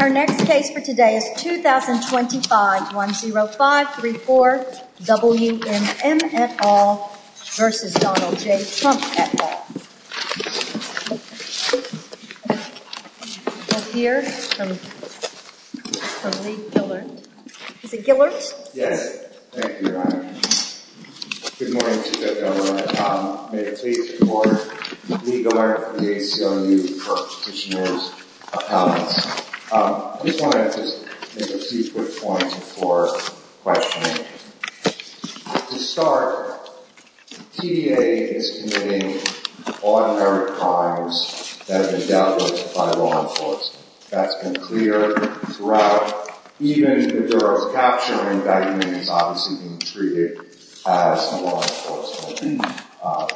Our next case for today is 2025-10534, W.M. M. et al. v. Donald J. Trump et al. We'll hear from Lee Gillard. Is it Gillard? Yes. Thank you, Your Honor. Good morning to you both, Your Honor. May it please the Court, Lee Gillard from the ACLU for Petitioner's Appeal. I just wanted to make a few quick points before questioning. To start, the TDA is committing ordinary crimes that have been dealt with by law enforcement. That's been clear throughout. But even if there is capture and evacuation, it's obviously being treated as a law enforcement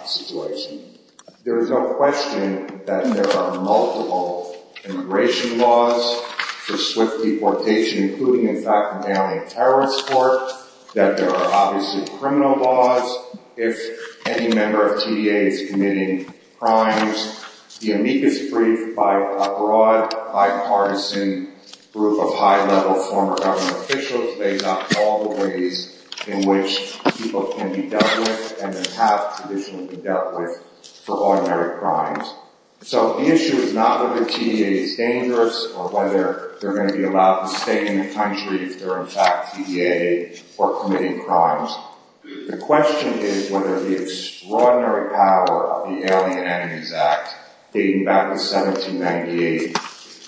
situation. There is no question that there are multiple immigration laws for swift deportation, including, in fact, an alien terrorist court, that there are obviously criminal laws. If any member of TDA is committing crimes, the amicus brief by a broad, bipartisan group of high-level former government officials lays out all the ways in which people can be dealt with and have traditionally been dealt with for ordinary crimes. So the issue is not whether TDA is dangerous or whether they're going to be allowed to stay in the country if they're, in fact, TDA or committing crimes. The question is whether the extraordinary power of the Alien Enemies Act, dating back to 1798,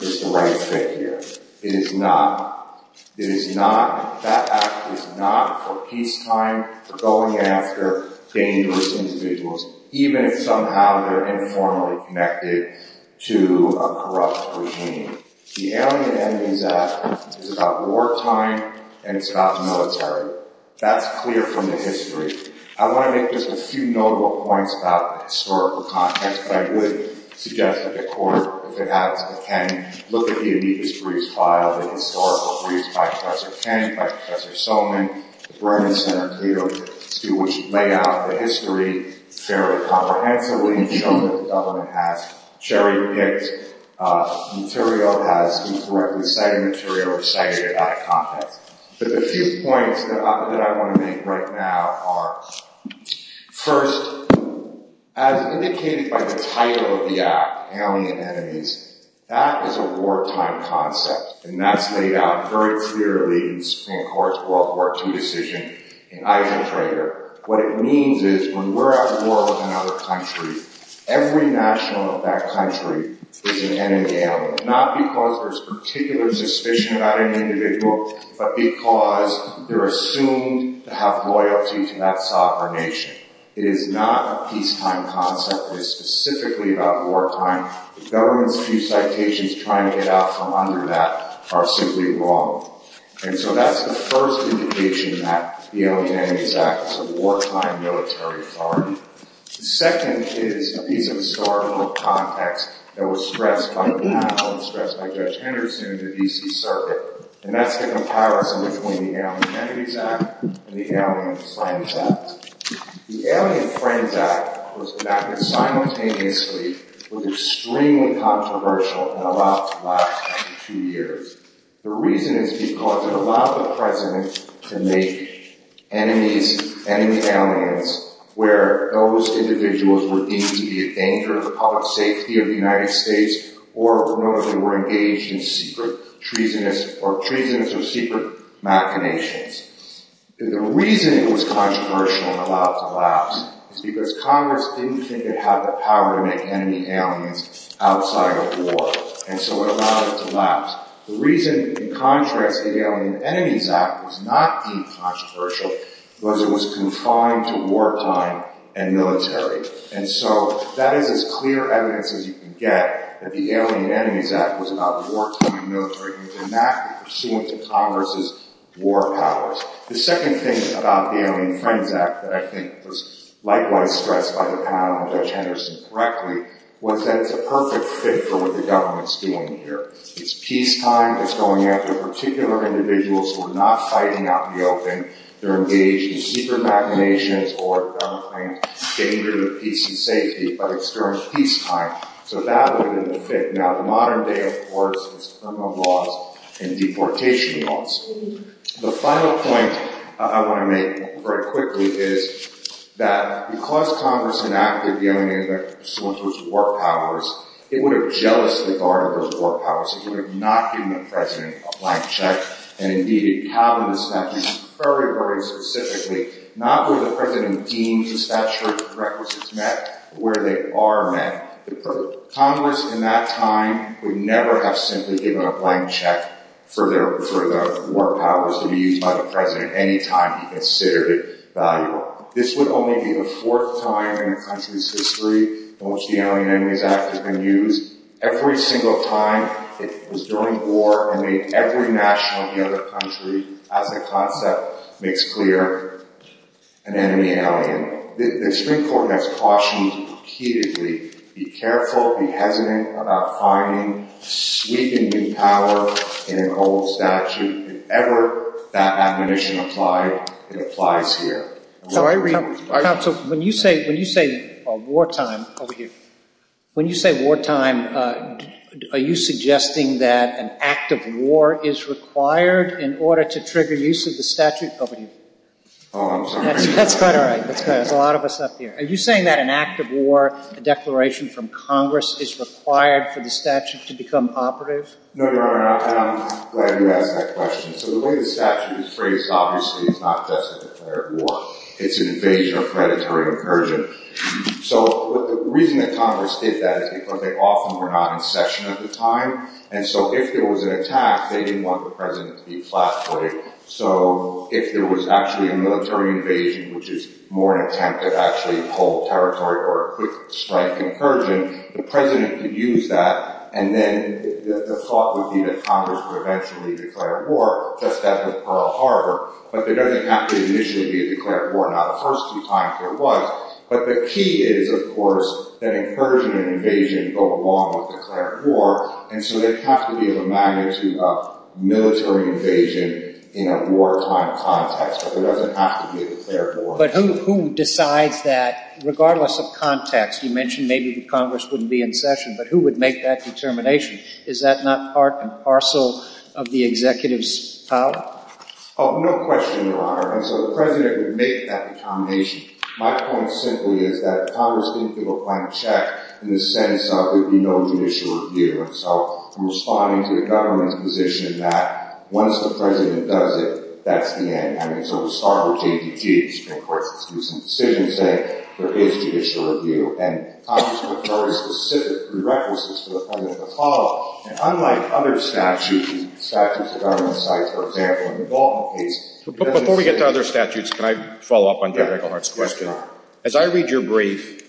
is the right fit here. It is not. It is not. That act is not for peacetime, for going after dangerous individuals, even if somehow they're informally connected to a corrupt regime. The Alien Enemies Act is about wartime and it's about military. That's clear from the history. I want to make just a few notable points about the historical context, but I would suggest that the court, if it happens, can look at the amicus briefs filed, the historical briefs by Professor King, by Professor Solman, the Bremen Center, to see which lay out the history fairly comprehensively and show that the government has cherry-picked material, has incorrectly cited material, or cited it out of context. But the few points that I want to make right now are, first, as indicated by the title of the act, Alien Enemies, that is a wartime concept, and that's laid out very clearly in the Supreme Court's World War II decision in Eichentrader. What it means is when we're at war with another country, every national of that country is an enemy alien, not because there's particular suspicion about an individual, but because they're assumed to have loyalty to that sovereign nation. It is not a peacetime concept. It is specifically about wartime. The government's few citations trying to get out from under that are simply wrong. And so that's the first indication that the Alien Enemies Act is a wartime military authority. The second is a piece of historical context that was stressed by the panel and stressed by Judge Henderson in the D.C. Circuit, and that's the comparison between the Alien Enemies Act and the Alien Friends Act. The Alien Friends Act was enacted simultaneously, was extremely controversial in the last two years. The reason is because it allowed the president to make enemies, enemy aliens, where those individuals were deemed to be a danger to the public safety of the United States or known as they were engaged in secret treasonous or secret machinations. The reason it was controversial and allowed to lapse is because Congress didn't think it had the power to make enemy aliens outside of war. And so it allowed it to lapse. The reason, in contrast, the Alien Enemies Act was not deemed controversial was it was confined to wartime and military. And so that is as clear evidence as you can get that the Alien Enemies Act was about wartime military. It was enacted pursuant to Congress's war powers. The second thing about the Alien Friends Act that I think was likewise stressed by the panel and Judge Henderson correctly was that it's a perfect fit for what the government's doing here. It's peacetime. It's going after particular individuals who are not fighting out in the open. They're engaged in secret machinations or, if the government claims, danger to peace and safety, but it's during peacetime. So that would have been the fit. Now, the modern day, of course, is criminal laws and deportation laws. The final point I want to make very quickly is that because Congress enacted the Alien Enemies Act pursuant to its war powers, it would have jealously guarded those war powers. It would have not given the President a blank check and, indeed, it covered the statutes very, very specifically, not where the President deemed the statute of requisites met, but where they are met. Congress in that time would never have simply given a blank check for the war powers to be used by the President any time he considered it valuable. This would only be the fourth time in the country's history in which the Alien Enemies Act has been used. Every single time it was during war and made every national in the other country, as the concept makes clear, an enemy alien. The Supreme Court has cautioned repeatedly, be careful, be hesitant about finding sweeping new power in an old statute. If ever that admonition applied, it applies here. So when you say wartime, over here, when you say wartime, are you suggesting that an act of war is required in order to trigger use of the statute? Over here. Oh, I'm sorry. That's quite all right. There's a lot of us up here. Are you saying that an act of war, a declaration from Congress, is required for the statute to become operative? No, Your Honor, and I'm glad you asked that question. So the way the statute is phrased, obviously, is not just a declared war. It's an invasion or predatory incursion. So the reason that Congress did that is because they often were not in session at the time, and so if there was an attack, they didn't want the President to be flat-footed. So if there was actually a military invasion, which is more an attempt to actually hold territory or a quick strike incursion, the President could use that, and then the thought would be that Congress would eventually declare war, just as with Pearl Harbor. But there doesn't have to initially be a declared war. Now, the first few times there was, but the key is, of course, that incursion and invasion go along with declared war, and so there'd have to be a magnitude of military invasion in a wartime context, but there doesn't have to be a declared war. But who decides that, regardless of context? You mentioned maybe Congress wouldn't be in session, but who would make that determination? Is that not part and parcel of the executive's power? Oh, no question, Your Honor. And so the President would make that determination. My point simply is that Congress didn't give a blank check in the sense of there'd be no judicial review. And so I'm responding to the government's position that once the President does it, that's the end. I mean, so the Starboard JDT, the Supreme Court's recent decision saying there is judicial review, and Congress would have very specific prerequisites for the President to follow. And unlike other statutes, statutes of government sites, for example, in the Baldwin case, Before we get to other statutes, can I follow up on Judge Englehart's question? Yes, Your Honor. As I read your brief,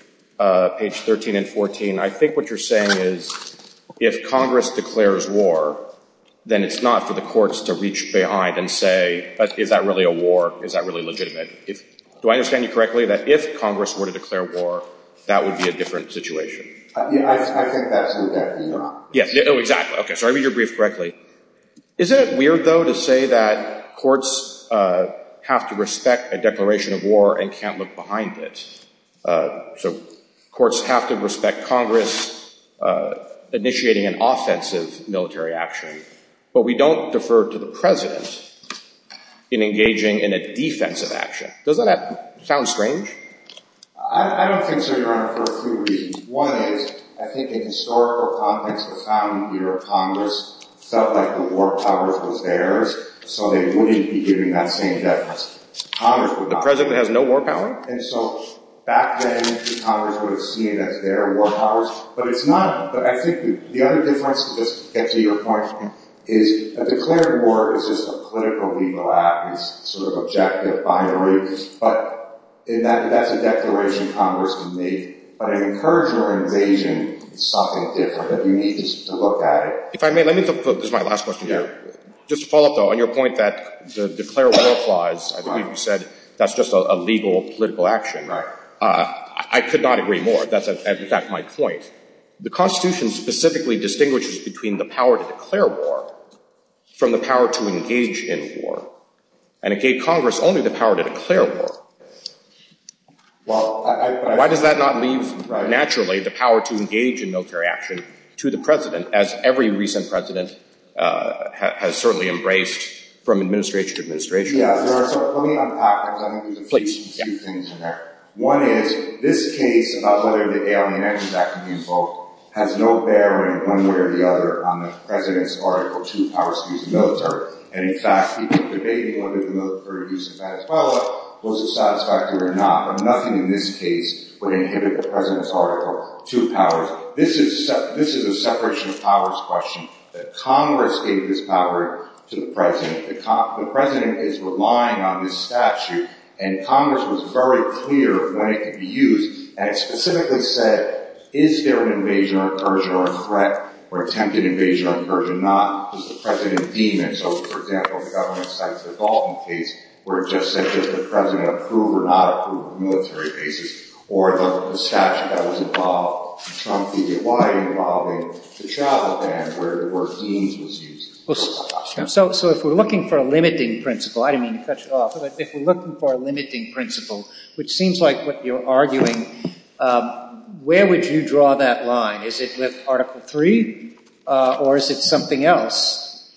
page 13 and 14, I think what you're saying is if Congress declares war, then it's not for the courts to reach behind and say, is that really a war? Is that really legitimate? Do I understand you correctly that if Congress were to declare war, that would be a different situation? I think that's what that is, Your Honor. Oh, exactly. Okay, so I read your brief correctly. Is it weird, though, to say that courts have to respect a declaration of war and can't look behind it? So courts have to respect Congress initiating an offensive military action, but we don't defer to the President in engaging in a defensive action. Doesn't that sound strange? I don't think so, Your Honor, for a few reasons. One is, I think in historical context, the founding leader of Congress felt like the war powers was theirs, so they wouldn't be giving that same definition. Congress would not. The President has no war power? And so back then, Congress would have seen it as their war powers, but it's not. But I think the other difference, to just get to your point, is a declared war is just a political legal act. It's sort of objective, binary, but that's a declaration Congress can make. But I encourage your invasion as something different, that you need to look at it. If I may, let me focus my last question here. Just to follow up, though, on your point that the declared war clause, I think you said that's just a legal political action. Right. I could not agree more. That's, in fact, my point. The Constitution specifically distinguishes between the power to declare war from the power to engage in war. And it gave Congress only the power to declare war. Why does that not leave, naturally, the power to engage in military action to the President, as every recent President has certainly embraced from administration to administration? Yeah, so let me unpack this. I think there's a few things in there. One is, this case about whether the Alien Exit Act can be invoked has no bearing, one way or the other, on the President's Article 2 powers to use the military. And, in fact, people are debating whether the military use of Venezuela was satisfactory or not. But nothing in this case would inhibit the President's Article 2 powers. This is a separation of powers question. Congress gave this power to the President. The President is relying on this statute. And Congress was very clear of when it could be used. And it specifically said, is there an invasion or incursion or a threat or attempted invasion or incursion? Not. Does the President deem it? So, for example, the government cites the Dalton case, where it just said, does the President approve or not approve of military bases? Or the statute that was involved in Trump v. Hawaii involving the travel ban, where the word deems was used. So if we're looking for a limiting principle, I don't mean to cut you off, but if we're looking for a limiting principle, which seems like what you're arguing, where would you draw that line? Is it with Article 3? Or is it something else?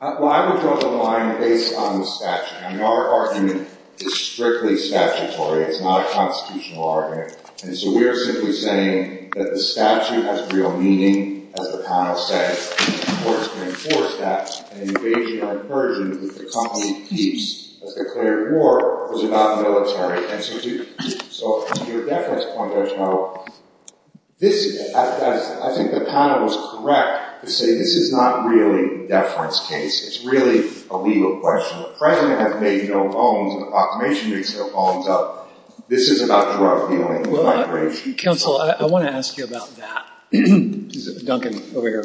Well, I would draw the line based on the statute. I mean, our argument is strictly statutory. It's not a constitutional argument. And so we're simply saying that the statute has real meaning, as McConnell said. The courts can enforce that. An invasion or incursion, which the company keeps as declared war, was about military institutions. So to your deference point, I think the panel is correct to say this is not really a deference case. It's really a legal question. The President has made no bones, and the Proclamation makes no bones up. This is about drug dealing. Counsel, I want to ask you about that. Duncan, over here.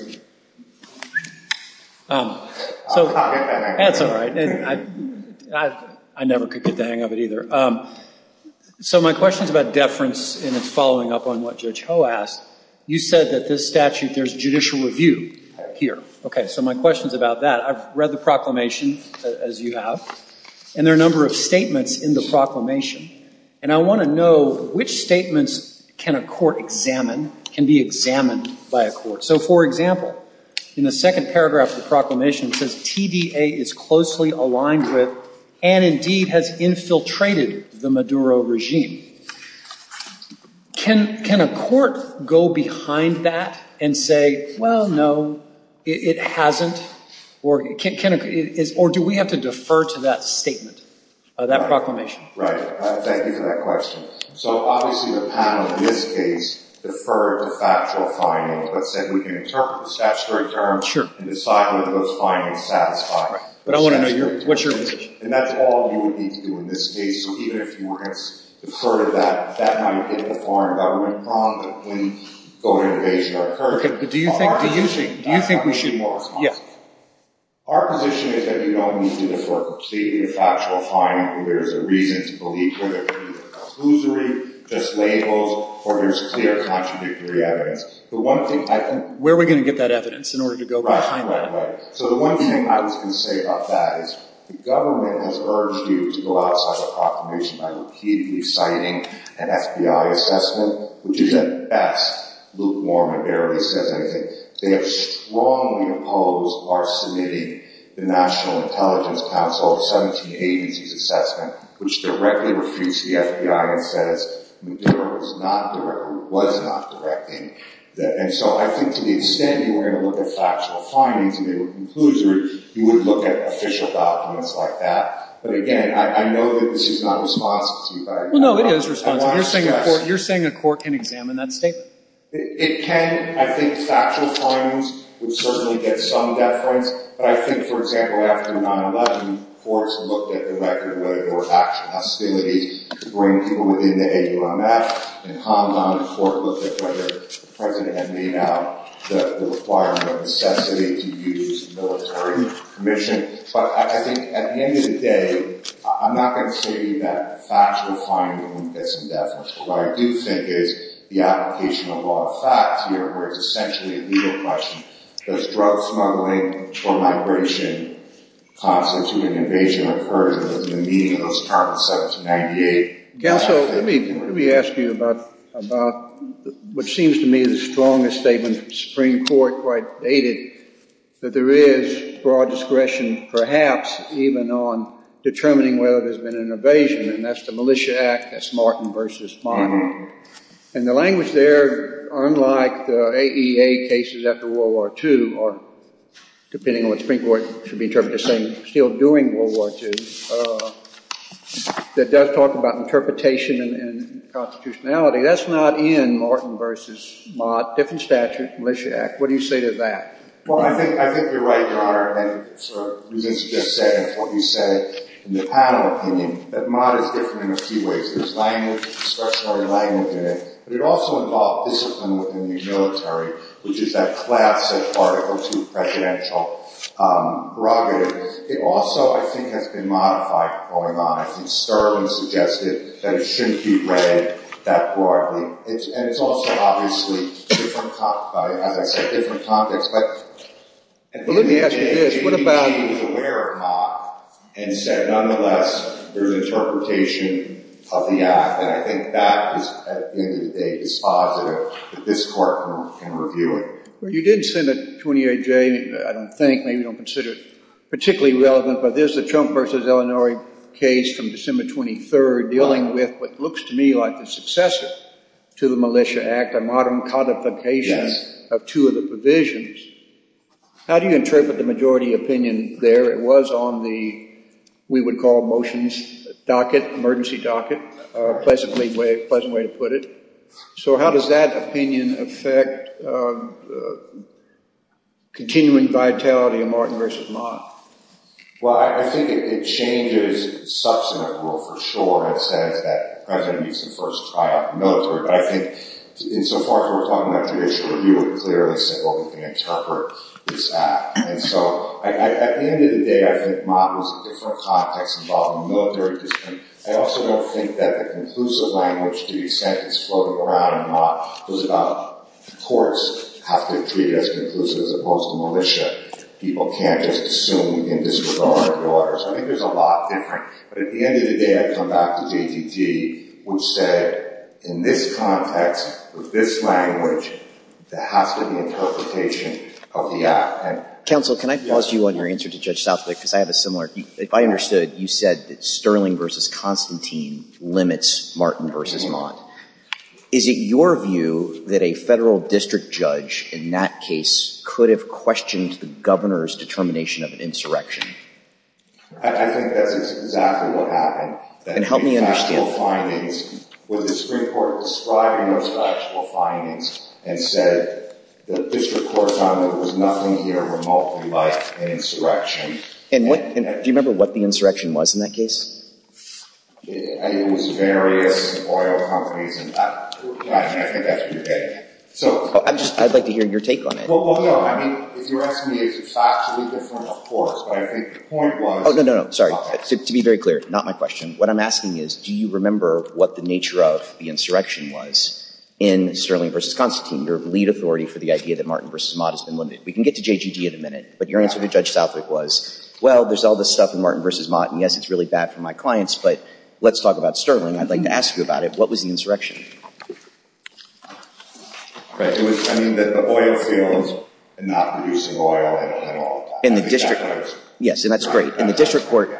That's all right. I never could get the hang of it either. So my question is about deference and its following up on what Judge Ho asked. You said that this statute, there's judicial review here. Okay, so my question is about that. I've read the Proclamation, as you have, and there are a number of statements in the Proclamation. And I want to know, which statements can a court examine, can be examined by a court? So, for example, in the second paragraph of the Proclamation, it says TDA is closely aligned with and indeed has infiltrated the Maduro regime. Can a court go behind that and say, well, no, it hasn't? Or do we have to defer to that statement, that Proclamation? Right. Thank you for that question. So obviously the panel in this case deferred to factual findings, but said we can interpret the statutory terms and decide whether those findings satisfy. But I want to know what's your position. And that's all you would need to do in this case. So even if you were to defer to that, that might hit the foreign government prong, but it wouldn't go to an invasion of our courage. Okay, but do you think we should? Our position is that you don't need to defer completely to factual findings. There's a reason to believe. Whether it be a conclusory, just labels, or there's clear contradictory evidence. The one thing I can... Where are we going to get that evidence in order to go behind that? Right, right, right. So the one thing I was going to say about that is the government has urged you to go outside the Proclamation by repeatedly citing an FBI assessment, which is at best lukewarm and barely says anything. They have strongly opposed our submitting the National Intelligence Council 1780s assessment, which directly refutes the FBI and says McDermott was not directing that. And so I think to the extent you were going to look at factual findings and they were conclusory, you would look at official documents like that. But again, I know that this is not responsive to you. Well, no, it is responsive. You're saying a court can examine that statement? It can. I think factual findings would certainly get some deference. But I think, for example, after 9-11, courts looked at the record of whether there was actual hostility to bring people within the AUMF. In Hong Kong, the court looked at whether the President had made out the requirement of necessity to use military permission. But I think at the end of the day, I'm not going to say that factual finding wouldn't get some deference. What I do think is the application of law of facts here, where it's essentially a legal question. Does drug smuggling or migration constitute an invasion? I've heard it in the meeting of those targets, 1798. Counsel, let me ask you about what seems to me the strongest statement from the Supreme Court, quite dated, that there is broad discretion, perhaps, even on determining whether there's been an invasion. And that's the Militia Act. That's Martin v. Mott. And the language there, unlike the AEA cases after World War II, or depending on what the Supreme Court should be interpreting, saying we're still doing World War II, that does talk about interpretation and constitutionality. That's not in Martin v. Mott, different statute, Militia Act. What do you say to that? Well, I think you're right, Your Honor. And for reasons you just said, and what you said in the panel opinion, that Mott is different in a few ways. There's language, discretionary language in it. But it also involved discipline within the military, which is that classic Article II presidential prerogative. It also, I think, has been modified going on. I think Sturgeon suggested that it shouldn't be read that broadly. And it's also obviously, as I said, different context. Well, let me ask you this. What about if he was aware of Mott and said, nonetheless, there's interpretation of the And I think that, at the end of the day, is positive, that this Court can review it. You did say that 28J, I don't think, maybe you don't consider it particularly relevant, but there's the Trump v. Illinois case from December 23 dealing with what looks to me like the successor to the Militia Act, a modern codification of two of the provisions. How do you interpret the majority opinion there? It was on the, we would call, motions docket, emergency docket, a pleasant way to put it. So how does that opinion affect continuing vitality of Mott v. Mott? Well, I think it changes substantive rule for sure. It says that the President needs to first try out the military. But I think, insofar as we're talking about judicial review, it clearly said, well, we can interpret this act. And so, at the end of the day, I think Mott was a different context involving military discipline. I also don't think that the conclusive language to be sentenced floating around in Mott was about courts have to treat it as conclusive as opposed to militia. People can't just assume in disregard of the orders. I think there's a lot different. But at the end of the day, I come back to JTT, which said, in this context, with this language, there has to be an interpretation of the act. Counsel, can I pause you on your answer to Judge Southwick? Because I have a similar, if I understood, you said that Sterling v. Constantine limits Mott v. Mott. Is it your view that a federal district judge, in that case, could have questioned the governor's determination of an insurrection? I think that's exactly what happened. And help me understand. The factual findings, was the Supreme Court describing those factual findings and said, the district court found that there was nothing here remotely like an insurrection. And do you remember what the insurrection was in that case? It was various oil companies. I think that's what you're getting at. I'd like to hear your take on it. Well, no. I mean, if you're asking me, it's factually different, of course. But I think the point was— Oh, no, no, no. Sorry. To be very clear. Not my question. What I'm asking is, do you remember what the nature of the insurrection was in Sterling v. Constantine, your lead authority for the idea that Mott v. Mott has been limited? We can get to JGG in a minute. But your answer to Judge Southwick was, well, there's all this stuff in Mott v. Mott. And, yes, it's really bad for my clients. But let's talk about Sterling. I'd like to ask you about it. What was the insurrection? Right. It was, I mean, that the oil fields are not producing oil at all. In the district court. Yes. And that's great. In the district court.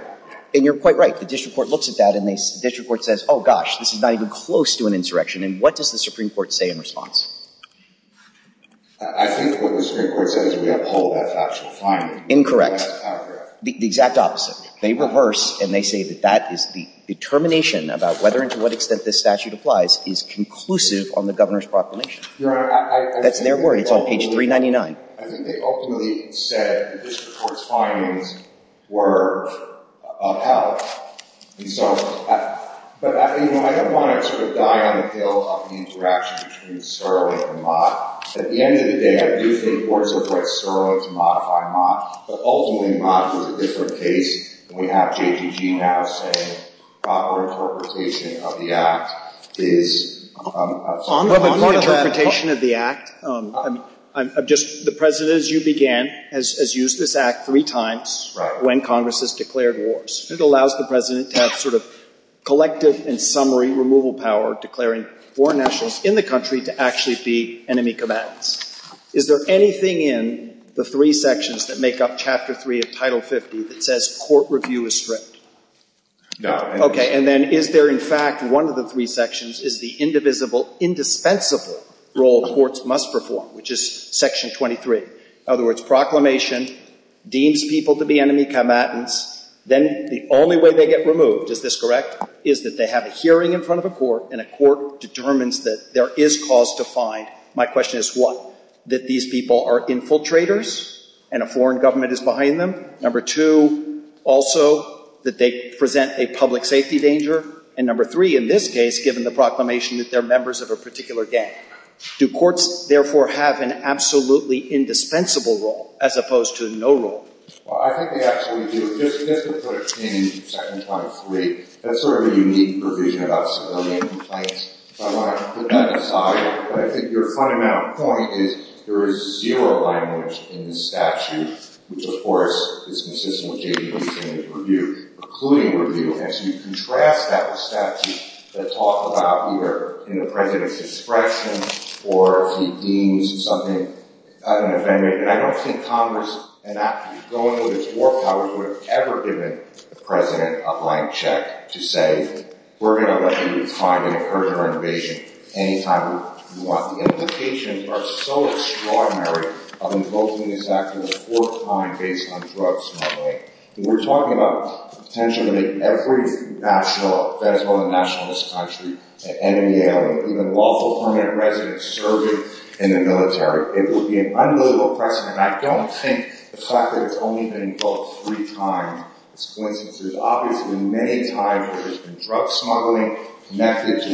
And you're quite right. The district court looks at that, and the district court says, oh, gosh, this is not even close to an insurrection. And what does the Supreme Court say in response? I think what the Supreme Court says is we uphold that factual finding. Incorrect. Incorrect. The exact opposite. They reverse, and they say that that is the determination about whether and to what extent this statute applies is conclusive on the Governor's proclamation. Your Honor, I think they ultimately – That's their word. It's on page 399. I think they ultimately said the district court's findings were of help. And so, but, you know, I don't want to sort of die on the hill of the interaction between Sterling and Mott. At the end of the day, I do think courts avoid Sterling to modify Mott. But ultimately, Mott is a different case. We have JTG now saying proper interpretation of the Act is – On the interpretation of the Act, I'm just – the President, as you began, has used this Act three times when Congress has declared wars. It allows the President to have sort of collective and summary removal power, declaring foreign nationals in the country to actually be enemy combatants. Is there anything in the three sections that make up Chapter 3 of Title 50 that says court review is strict? Okay. And then is there, in fact, one of the three sections is the indivisible, indispensable role courts must perform, which is Section 23. In other words, proclamation deems people to be enemy combatants. Then the only way they get removed, is this correct, is that they have a hearing in front of a court, and a court determines that there is cause to find. My question is what? That these people are infiltrators, and a foreign government is behind them? Number two, also, that they present a public safety danger? And number three, in this case, given the proclamation that they're members of a particular gang. Do courts, therefore, have an absolutely indispensable role, as opposed to no role? Well, I think they absolutely do. Just to put a change to Section 23, that's sort of a unique provision about civilian complaints. I want to put that aside. But I think your fundamental point is there is zero language in the statute, which, of course, is consistent with J.P. Winston's review, including review. And so you contrast that with statutes that talk about either in the president's discretion, or if he deems something an offending. And I don't think Congress, and I'm going with its war powers, would have ever given the president a blank check to say, we're going to let you refine and further our innovation any time you want. The implications are so extraordinary of invoking this action for the fourth time based on drug smuggling. We're talking about the potential to make every federal and nationalist country, and in the area, even lawful permanent residents, serve in the military. It would be an unbelievable precedent. And I don't think the fact that it's only been invoked three times is coincidence. There's obviously many times where there's been drug smuggling. Take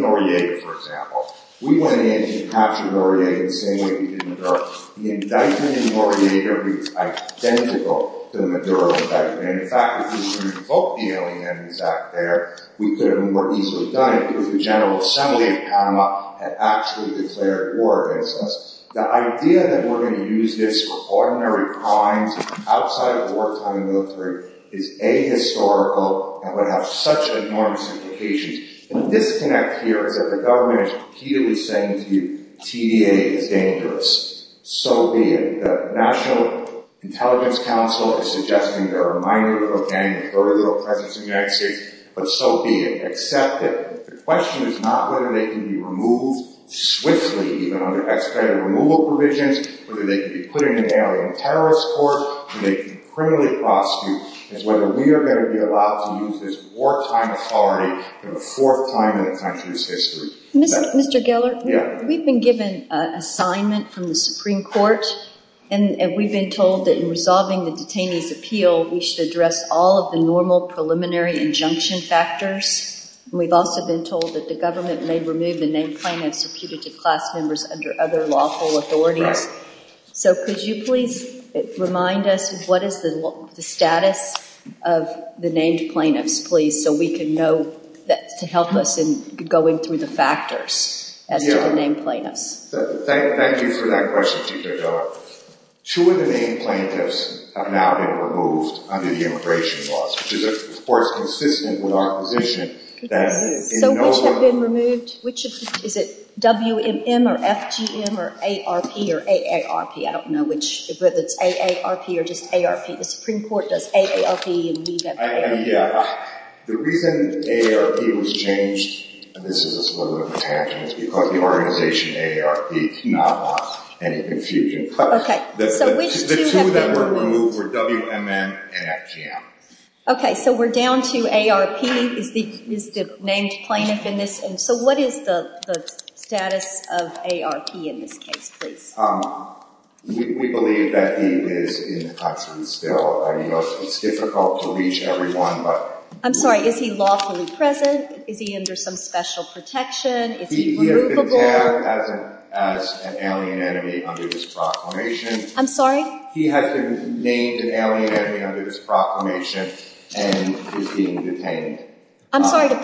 Noriega, for example. We went in and captured Noriega the same way we did Maduro. The indictment in Noriega is identical to the Maduro indictment. In fact, if we should have invoked the Alien Enemies Act there, we could have more easily done it, because the General Assembly of Panama had actually declared war against us. The idea that we're going to use this for ordinary crimes outside of wartime in the military is ahistorical and would have such enormous implications. And the disconnect here is that the government is repeatedly saying to you, TDA is dangerous. So be it. The National Intelligence Council is suggesting there are minor, but again, peripheral presence in the United States, but so be it. Accept it. The question is not whether they can be removed swiftly, even under expedited removal provisions, whether they can be put in an alien terrorist court, and they can criminally prosecute, it's whether we are going to be allowed to use this wartime authority for the fourth time in the country's history. Mr. Geller, we've been given an assignment from the Supreme Court, and we've been told that in resolving the detainee's appeal, we should address all of the normal preliminary injunction factors. We've also been told that the government may remove the name plan that's subpoenaed to class members under other lawful authorities. So could you please remind us what is the status of the named plaintiffs, please, so we can know to help us in going through the factors as to the named plaintiffs. Thank you for that question, Chief Judge. Two of the named plaintiffs have now been removed under the immigration laws, which is, of course, consistent with our position. So which have been removed? Is it WMM or FGM or AARP or AARP? I don't know whether it's AARP or just AARP. The Supreme Court does AARP and we do AARP. The reason AARP was changed, and this is sort of a tangent, is because the organization AARP cannot allow any confusion. Okay. The two that were removed were WMM and FGM. Okay, so we're down to AARP is the named plaintiff in this. So what is the status of AARP in this case, please? We believe that he is in the custody still. It's difficult to reach everyone. I'm sorry. Is he lawfully present? Is he under some special protection? Is he removable? He has been tagged as an alien enemy under this proclamation. I'm sorry? He has been named an alien enemy under this proclamation and is being detained. I'm sorry to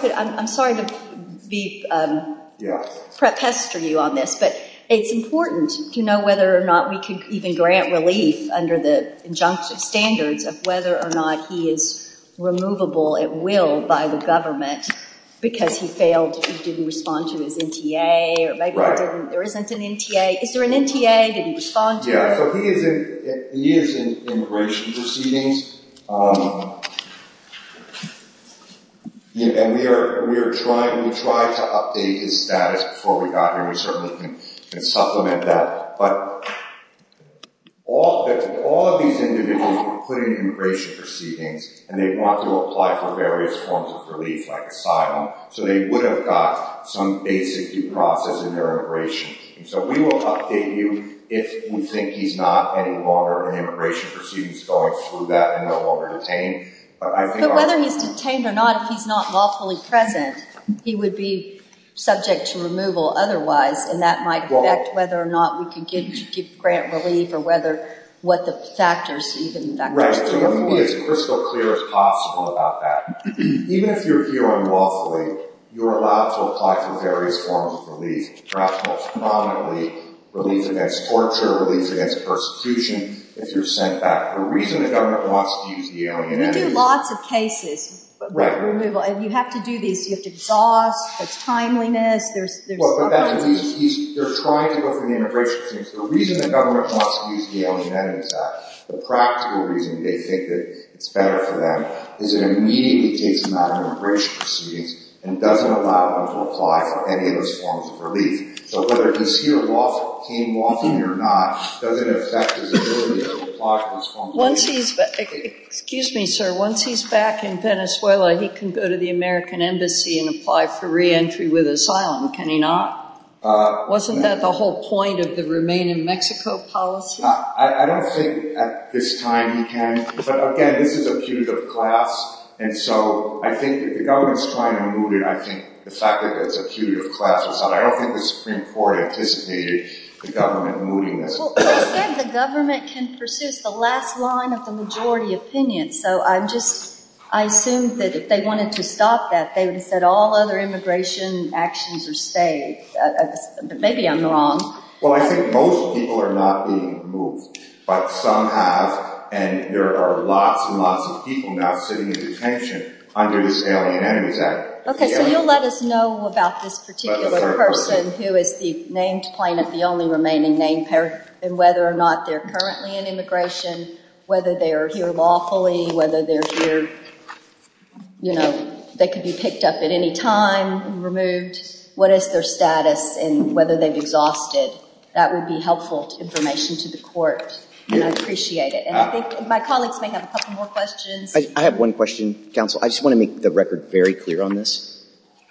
pester you on this, but it's important to know whether or not we can even grant relief under the injunctive standards of whether or not he is removable at will by the government because he failed, he didn't respond to his NTA, or maybe there isn't an NTA. Is there an NTA? Did he respond to it? Yeah, so he is in immigration proceedings. And we are trying to update his status before we got here. We certainly can supplement that. But all of these individuals were put in immigration proceedings and they want to apply for various forms of relief like asylum, so they would have got some basic due process in their immigration. So we will update you if we think he's not any longer in immigration proceedings going through that and no longer detained. But whether he's detained or not, if he's not lawfully present, he would be subject to removal otherwise, and that might affect whether or not we can grant relief or what the factors even that could be. Right, so let me be as crystal clear as possible about that. Even if you're here unlawfully, you're allowed to apply for various forms of relief, perhaps most prominently relief against torture, relief against persecution if you're sent back. The reason the government wants to use the Alien Entity Act... We do lots of cases of removal. You have to do these. You have to exhaust the timeliness. They're trying to go through the immigration proceedings. The reason the government wants to use the Alien Entity Act, the practical reason they think that it's better for them, is it immediately takes them out of immigration proceedings and doesn't allow them to apply for any of those forms of relief. So whether he's here lawfully or not, does it affect his ability to apply for these forms of relief? Excuse me, sir. Once he's back in Venezuela, he can go to the American Embassy and apply for re-entry with asylum, can he not? Wasn't that the whole point of the Remain in Mexico policy? I don't think at this time he can. But again, this is a putative class, and so I think if the government's trying to move it, I think the fact that it's a putative class... I don't think the Supreme Court anticipated the government moving this. Well, they said the government can pursue the last line of the majority opinion, so I'm just... I assumed that if they wanted to stop that, they would have said all other immigration actions are stayed. But maybe I'm wrong. Well, I think most people are not being moved, but some have, and there are lots and lots of people now sitting in detention under this Alien Entity Act. OK, so you'll let us know about this particular person who is the named plaintiff, the only remaining named parent, and whether or not they're currently in immigration, whether they are here lawfully, whether they're here... you know, they could be picked up at any time and removed, what is their status, and whether they've exhausted. That would be helpful information to the court, and I'd appreciate it. And I think my colleagues may have a couple more questions. I have one question, counsel. I just want to make the record very clear on this.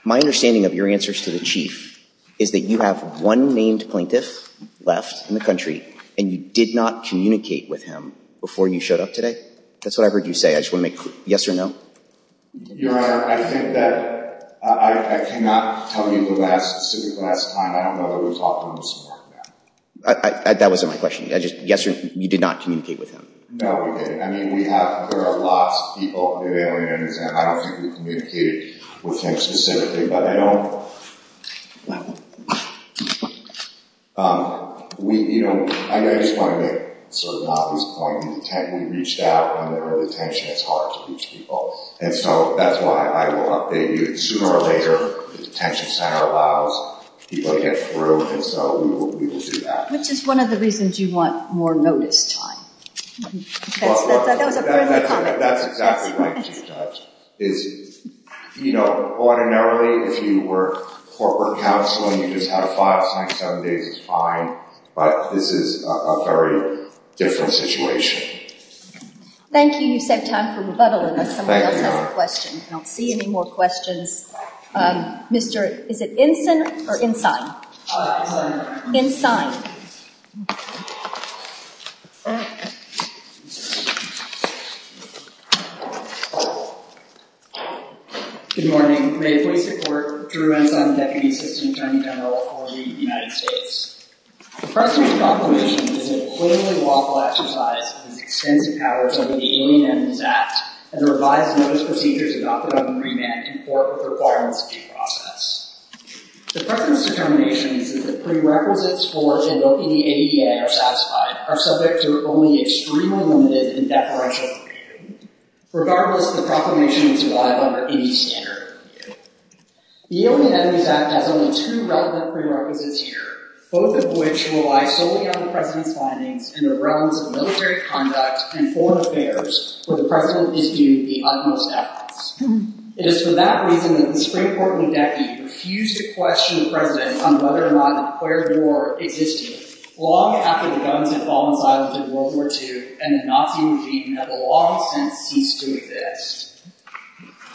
My understanding of your answers to the Chief is that you have one named plaintiff left in the country, and you did not communicate with him before you showed up today? That's what I heard you say. I just want to make... yes or no? Your Honor, I think that... I cannot tell you the specific last time. I don't know that we've talked to him this morning. That wasn't my question. You did not communicate with him? No, we didn't. I mean, we have... There are lots of people in the Alien Entity Act. I don't think we've communicated with him specifically, but I don't... You know, I just want to make sort of an obvious point. We reached out, and there are detentions. It's hard to reach people. And so that's why I will update you sooner or later. The detention center allows people to get through, and so we will do that. Which is one of the reasons you want more notice time. That was a friendly comment. That's exactly right, Judge. You know, ordinarily, if you were corporate counseling, you just had a 5, 6, 7 days is fine. But this is a very different situation. Thank you. You saved time for rebuttal unless someone else has a question. I don't see any more questions. Mr... is it Ensign or Ensign? Ensign. Good morning. May it please the Court, Drew Ensign, Deputy Assistant Attorney General for the United States. The present proclamation is a clearly lawful exercise of its extensive powers under the Alien Entities Act, and the revised notice procedures adopted on the pre-mandate conform with the requirements of due process. The present determination is that the prerequisites for invoking the ADA are satisfied, are subject to only extremely limited and deferential review. Regardless, the proclamation is alive under any standard of review. The Alien Entities Act has only two relevant prerequisites here, both of which rely solely on the President's findings and the relevance of military conduct and foreign affairs where the President is due the utmost efforts. It is for that reason that the Supreme Court in the decade refused to question the President on whether or not an acquired war existed long after the guns had fallen silent in World War II and the Nazi regime had long since ceased to exist.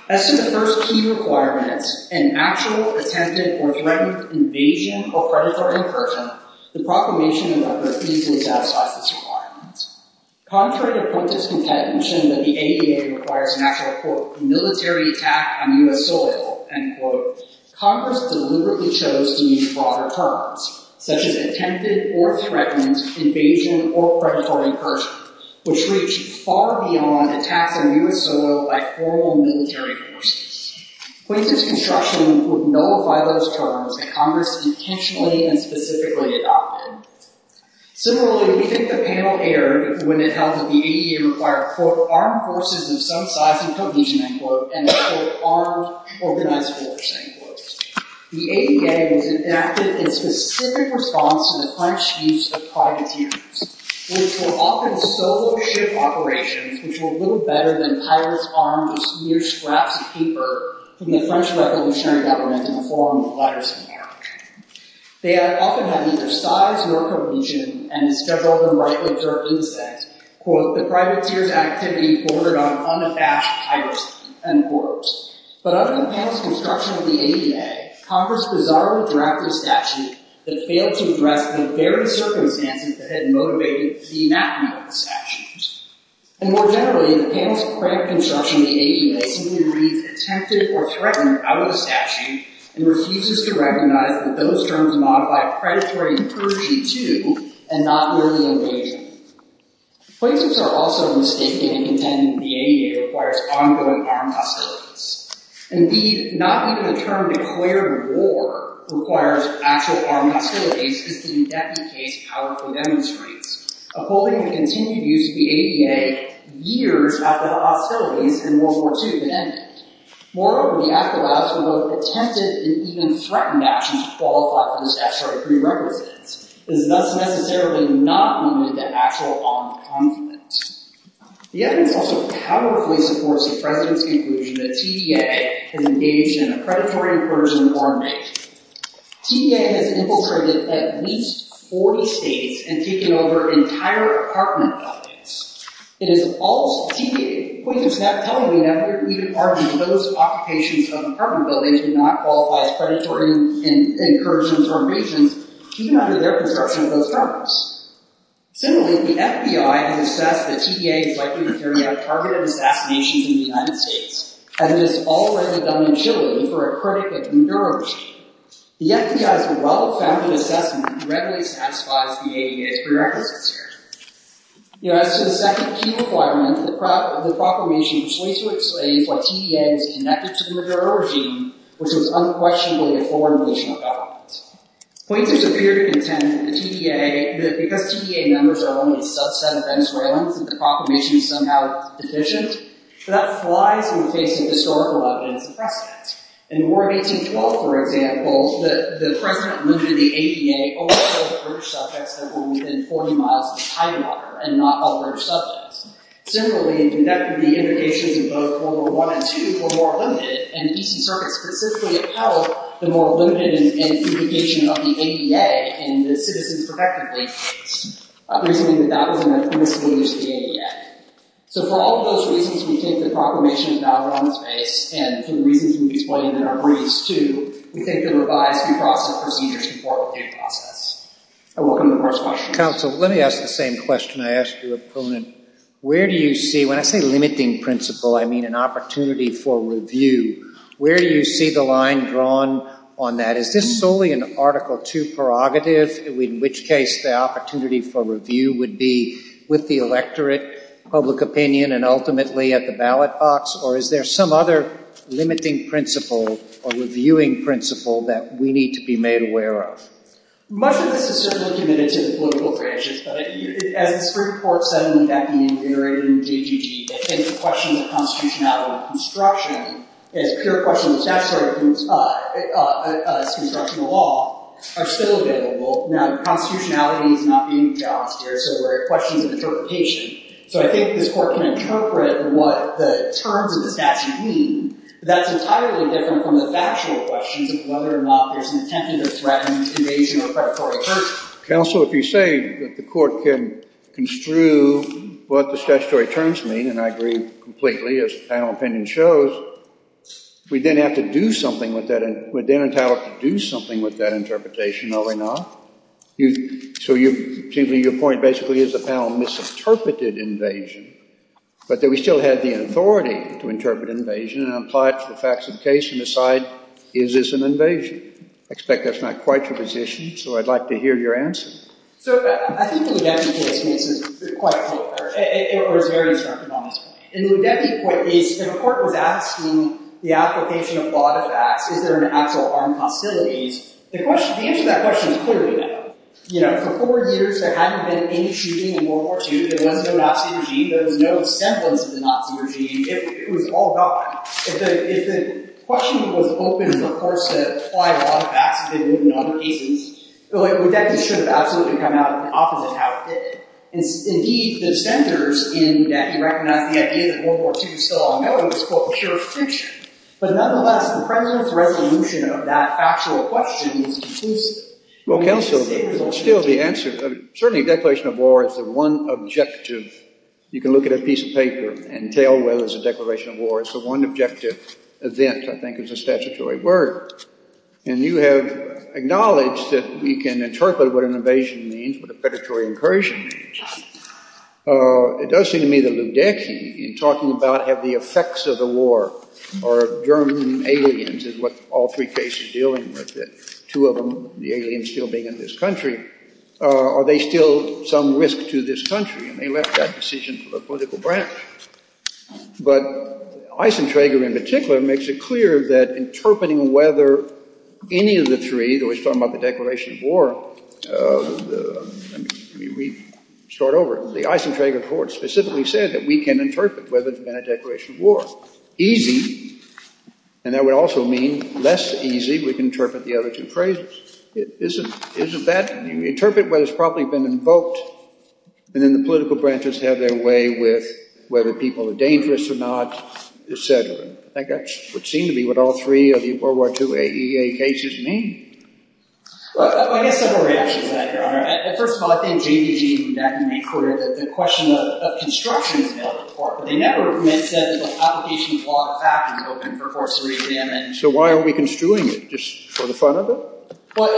As to the first key requirement, an actual, attempted, or threatened invasion or predatory incursion, the proclamation in record easily satisfies this requirement. Contrary to pointless contention that the ADA requires an actual, quote, military attack on U.S. soil, end quote, Congress deliberately chose to use broader terms, such as attempted or threatened invasion or predatory incursion, which reach far beyond attacks on U.S. soil by formal military forces. Pointless construction would nullify those terms that Congress intentionally and specifically adopted. Similarly, we think the panel erred when it held that the ADA required, quote, armed forces of some size and provision, end quote, and an, quote, armed organized force, end quote. The ADA was enacted in specific response to the French use of privateers, which were often solo ship operations, which were little better than pirates armed with mere scraps of paper from the French Revolutionary Government in the form of letters of marriage. They often had either size, work, or region, and instead of open-right lips or insects, quote, the privateers' activity bordered on unabashed piracy, end quote. But other than the panel's construction of the ADA, Congress bizarrely drafted a statute that failed to address the very circumstances that had motivated the enactment of the statute. And more generally, the panel's frank construction of the ADA simply reads attempted or threatened out of the statute and refuses to recognize that those terms modify predatory incursion, too, and not merely invasion. Plaintiffs are also mistaken in contending that the ADA requires ongoing armed hostilities. Indeed, not even the term declared war requires actual armed hostilities, as the indefinite case powerfully demonstrates, upholding the continued use of the ADA years after the hostilities in World War II had ended. Moreover, the act allows for both attempted and even threatened actions to qualify for the statutory prerequisites. It is thus necessarily not limited to actual armed conflict. The evidence also powerfully supports the president's conclusion that TDA has engaged in a predatory incursion or invasion. TDA has infiltrated at least 40 states and taken over entire apartment buildings. It is false. TDA's point is not telling me that we could argue that those occupations of apartment buildings do not qualify as predatory incursions or invasions even under their construction of those buildings. Similarly, the FBI has assessed that TDA is likely to carry out targeted assassinations in the United States, as it has already done in Chile for a critic of the Maduro regime. The FBI's well-founded assessment readily satisfies the ADA's prerequisites here. As to the second key requirement, the proclamation was later explained why TDA was connected to the Maduro regime, which was unquestionably a foreign militia government. Pointers appear to contend that because TDA members are only a subset of Venezuelans, that the proclamation is somehow deficient, but that flies in the face of historical evidence of precedent. In the War of 1812, for example, the president limited the ADA only to all British subjects that were within 40 miles of the Titanotter and not all British subjects. Similarly, the indications of both World War I and II were more limited, and the Peace and Circuits specifically held the more limited indication of the ADA in the Citizens Protected Lease case, reasoning that that was a misuse of the ADA. So for all of those reasons, we think the proclamation is valid on its face, and for the reasons we've explained in our briefs, too, we think that a revised due process procedure is important to the process. I welcome the first question. Counsel, let me ask the same question I asked your opponent. Where do you see, when I say limiting principle, I mean an opportunity for review. Where do you see the line drawn on that? Is this solely an Article II prerogative, in which case the opportunity for review would be with the electorate, public opinion, and ultimately at the ballot box, or is there some other limiting principle or reviewing principle that we need to be made aware of? Much of this is certainly committed to the political branches, but as the Supreme Court suddenly got invigorated in JGG and questioned the constitutionality of construction, as pure question of the statutory construction of law, are still available. Now, constitutionality is not being challenged here, so we're at questions of interpretation. So I think this Court can interpret what the terms of the statute mean, but that's entirely different from the factual questions of whether or not there's an attempt to threaten invasion or predatory virtue. Counsel, if you say that the Court can construe what the statutory terms mean, and I agree completely, as the panel opinion shows, we then have to do something with that, we're then entitled to do something with that interpretation, are we not? So your point basically is the panel misinterpreted invasion, but that we still had the authority to interpret invasion and apply it to the facts of the case and decide, is this an invasion? I expect that's not quite your position, so I'd like to hear your answer. So I think the Ludetti case makes it quite clear, or is very instructed on this point. In the Ludetti case, if a court was asking the application of law to facts, is there an actual armed hostilities, the answer to that question is clearly no. You know, for four years there hadn't been any shooting in World War II, there was no Nazi regime, there was no semblance of the Nazi regime, it was all gone. If the question was open for the courts to apply law to facts, as they did in other cases, the Ludetti should have absolutely come out the opposite of how it did. Indeed, the centers in Ludetti recognize the idea that World War II is still a mature fiction. But nonetheless, the president's resolution of that factual question is conclusive. Well, counsel, still the answer, certainly Declaration of War is the one objective, you can look at a piece of paper and tell whether it's a Declaration of War, it's the one objective event, I think is the statutory word. And you have acknowledged that we can interpret what an invasion means, what a predatory incursion means. It does seem to me that Ludetti, in talking about have the effects of the war, or German aliens is what all three cases are dealing with, two of them, the aliens still being in this country, are they still some risk to this country? And they left that decision for the political branch. But Eisenträger in particular makes it clear that interpreting whether any of the three, though he's talking about the Declaration of War, let me start over, the Eisenträger report specifically said that we can interpret whether it's been a Declaration of War. Easy, and that would also mean less easy, we can interpret the other two phrases. Isn't that, you interpret what has probably been invoked, and then the political branches have their way with whether people are dangerous or not, etc. I think that would seem to be what all three of the World War II AEA cases mean. Well, I guess I have a reaction to that, Your Honor. First of all, I think JVG would definitely be clear that the question of construction is a valid report, but they never said that the application of law of fact was open for forced re-examination. So why are we construing it, just for the fun of it? Well,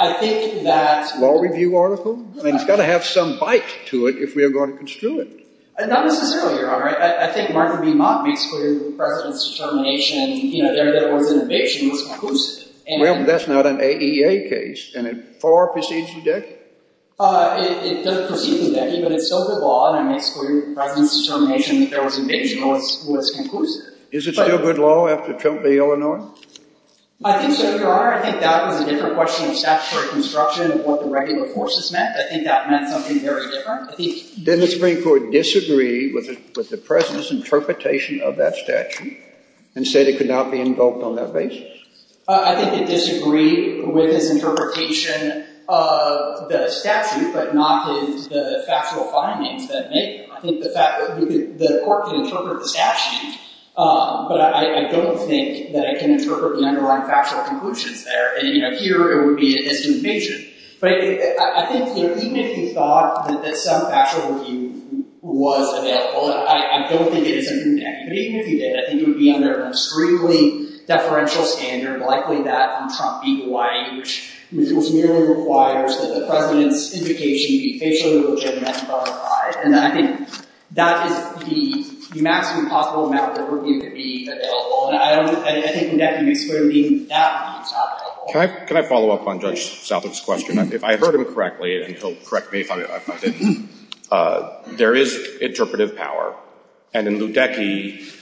I think that... Law review article? I mean, it's got to have some bite to it if we are going to construe it. Not necessarily, Your Honor. I think Martha B. Mott makes clear the President's determination that there was an eviction was conclusive. Well, but that's not an AEA case, and it far precedes the Deccan. It doesn't precede the Deccan, but it's still good law, and it makes clear the President's determination that there was an eviction was conclusive. Is it still good law after Trump v. Illinois? I think so, Your Honor. I think that was a different question of statutory construction of what the regular forces meant. I think that meant something very different. Didn't the Supreme Court disagree with the President's interpretation of that statute and said it could not be invoked on that basis? I think it disagreed with his interpretation of the statute, but not with the factual findings that make them. I think the court can interpret the statute, but I don't think that I can interpret the underlying factual conclusions there. And here, it would be a disinvasion. But I think, even if you thought that some factual review was available, I don't think it is in the Deccan. But even if you did, I think it would be under an extremely deferential standard, likely that from Trump v. Hawaii, which merely requires that the President's indication be facially legitimate and verified. And I think that is the maximum possible amount of review to be available. And I think in Deccan, it's clearly not available. Can I follow up on Judge Southwick's question? If I heard him correctly, and he'll correct me if I didn't, there is interpretive power. And in Ludecky,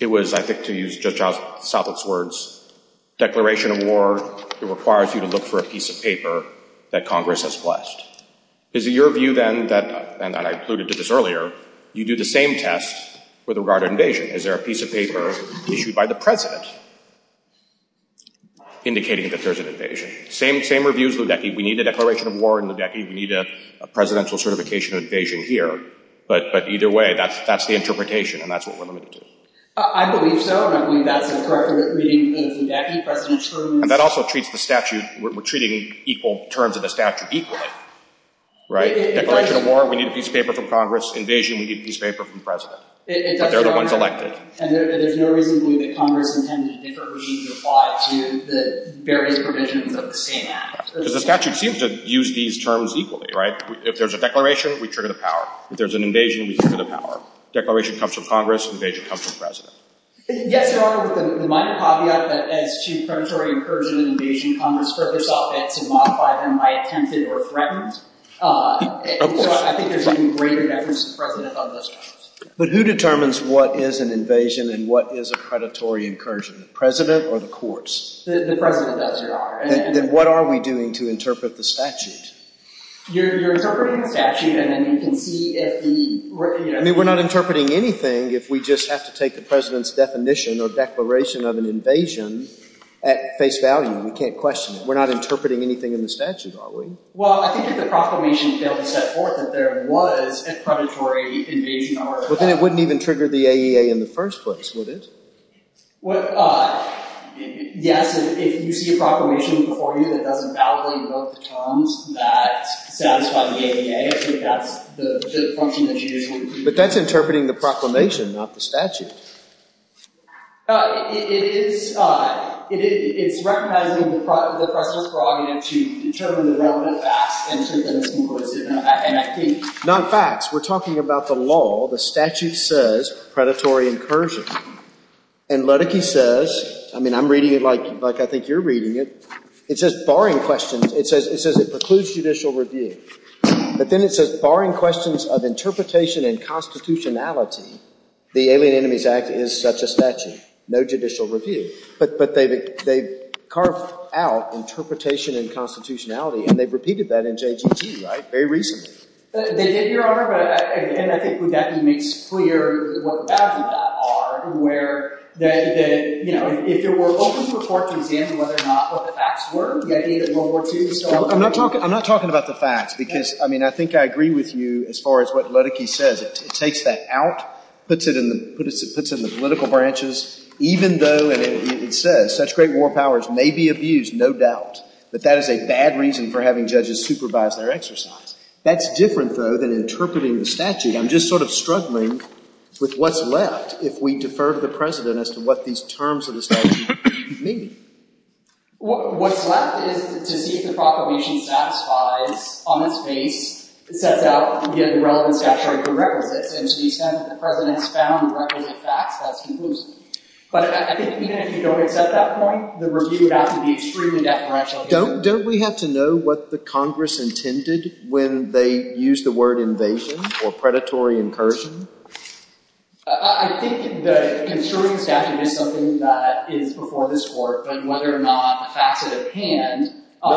it was, I think, to use Judge Southwick's words, declaration of war, it requires you to look for a piece of paper that Congress has blessed. Is it your view, then, and I alluded to this earlier, you do the same test with regard to invasion? Is there a piece of paper issued by the President indicating that there's an invasion? Same review as Ludecky. We need a declaration of war in Ludecky. We need a presidential certification of invasion here. But either way, that's the interpretation, and that's what we're limited to. I believe so, and I believe that's a correct reading of Ludecky, President Truman's... And that also treats the statute, we're treating equal terms of the statute equally, right? Declaration of war, we need a piece of paper from Congress. Invasion, we need a piece of paper from the President. But they're the ones elected. And there's no reason to believe that Congress intended to differently apply to the various provisions of the same act. Because the statute seems to use these terms equally, right? If there's a declaration, we trigger the power. If there's an invasion, we trigger the power. Declaration comes from Congress. Invasion comes from the President. Yes, Your Honor, with the minor caveat that, as Chief Prematory incursion and invasion, Congress further saw fit to modify them by attempted or threatened. Of course. I think there's even greater deference to the President on those terms. But who determines what is an invasion and what is a predatory incursion? The President or the courts? The President does, Your Honor. Then what are we doing to interpret the statute? You're interpreting the statute, and then you can see if the... I mean, we're not interpreting anything if we just have to take the President's definition or declaration of an invasion at face value. We can't question it. We're not interpreting anything in the statute, are we? Well, I think if the proclamation failed to set forth that there was a predatory invasion... Well, then it wouldn't even trigger the AEA in the first place, would it? What... Yes, if you see a proclamation before you that doesn't validly invoke the terms that satisfy the AEA, I think that's the function that you usually... But that's interpreting the proclamation, not the statute. It is... It's recognizing the President's prerogative to determine the relevant facts and I think... Not facts. We're talking about the law. The statute says predatory incursion. And Ledecky says... I mean, I'm reading it like I think you're reading it. It says, barring questions... It says it precludes judicial review. But then it says, barring questions of interpretation and constitutionality, the Alien Enemies Act is such a statute. No judicial review. But they've carved out interpretation and constitutionality, and they've repeated that in JGT, right? Very recently. They did, Your Honor, but I think Ledecky makes clear what the boundaries are and where... If you were open to a court to examine whether or not what the facts were, the idea that World War II... I'm not talking about the facts, because, I mean, I think I agree with you as far as what Ledecky says. It takes that out, puts it in the political branches, even though, and it says, such great war powers may be abused, no doubt, but that is a bad reason for having judges supervise their exercise. That's different, though, than interpreting the statute. I'm just sort of struggling with what's left if we defer to the President as to what these terms of the statute mean. What's left is to see if the Proclamation satisfies, on its face, sets out the relevant statutory prerequisites, and to the extent that the President's found requisite facts, that's conclusive. But I think even if you don't accept that point, Don't we have to know what the Congress intended when they used the word invasion or predatory incursion? I'm not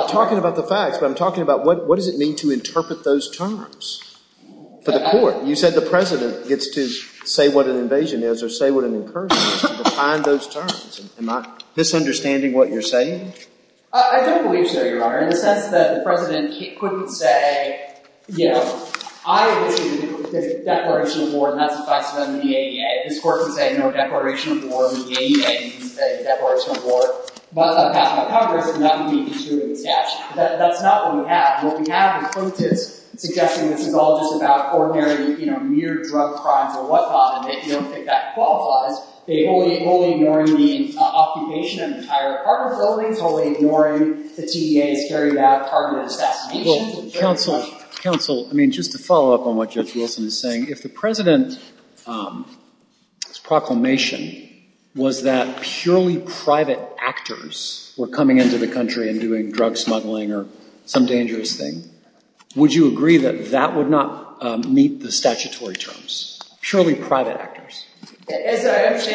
talking about the facts, but I'm talking about what does it mean to interpret those terms for the Court? You said the President gets to say what an invasion is or say what an incursion is to define those terms. Am I misunderstanding what you're saying? Occupation of an entire apartment building, totally ignoring the TEA's very bad target of assassination? As I understand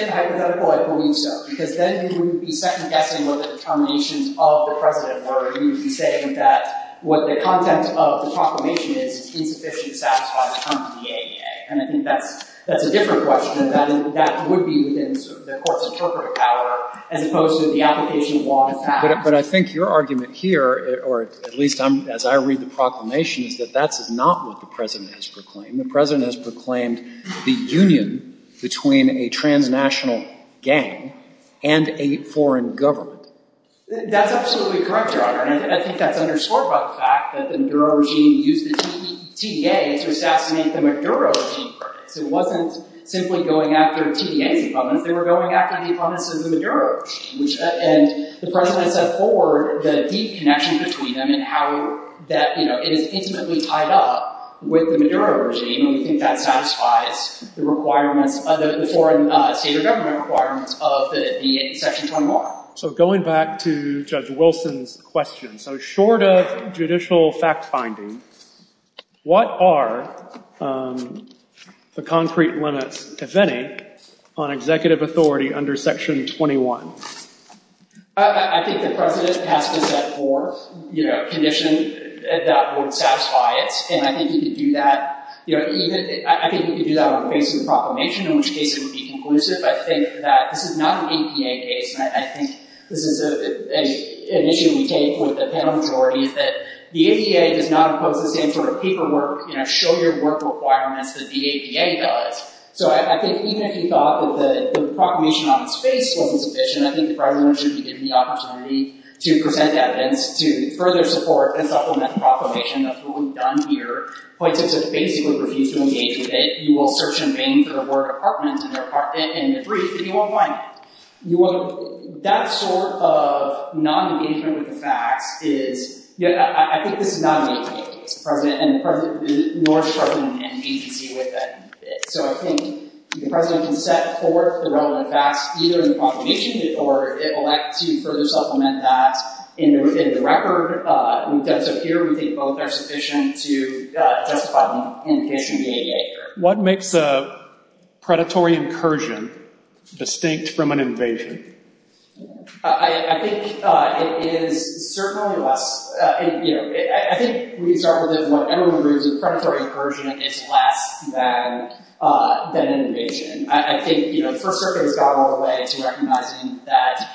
the hypothetical, I believe so, because then you would be second-guessing what the determinations of the President were. You would be saying that what the content of the Proclamation is is insufficient to satisfy the terms of the ADA. And I think that's a different question. That would be within the Court's interpretive power as opposed to the application of law to pass. But I think your argument here, or at least as I read the Proclamation, is that that's not what the President has proclaimed. The President has proclaimed the union between a transnational gang and a foreign government. That's absolutely correct, Your Honor. And I think that's underscored by the fact that the Maduro regime used the TEA to assassinate the Maduro regime. So it wasn't simply going after TEA's implements. They were going after the implements of the Maduro regime. And the President set forward the deep connection between them and how it is intimately tied up with the Maduro regime. And we think that satisfies the requirements of the foreign state or government requirements of the Section 21. So going back to Judge Wilson's question, so short of judicial fact-finding, what are the concrete limits, if any, on executive authority under Section 21? I think the President has to set forth conditions that would satisfy it. And I think he could do that. I think he could do that on the basis of the Proclamation, in which case it would be conclusive. I think that this is not an APA case, and I think this is an issue we take with the panel majority, is that the APA does not impose the same sort of paperwork, show your work requirements that the APA does. So I think even if he thought that the Proclamation on its face wasn't sufficient, I think the President should be given the opportunity to present evidence to further support and supplement the Proclamation. That's what we've done here. Point is, if you basically refuse to engage with it, you will search and bang for the word apartment in the brief, and you won't find it. That sort of non-engagement with the facts is, I think this is not an APA case, nor is the President in agency with it. So I think the President can set forth the relevant facts, either in the Proclamation, or it will act to further supplement that. In the record, we've done so here. We think both are sufficient to justify the indication of the APA here. What makes a predatory incursion distinct from an invasion? I think it is certainly less. I think we can start with what everyone agrees, a predatory incursion is less than an invasion. I think the First Circuit has gone all the way to recognizing that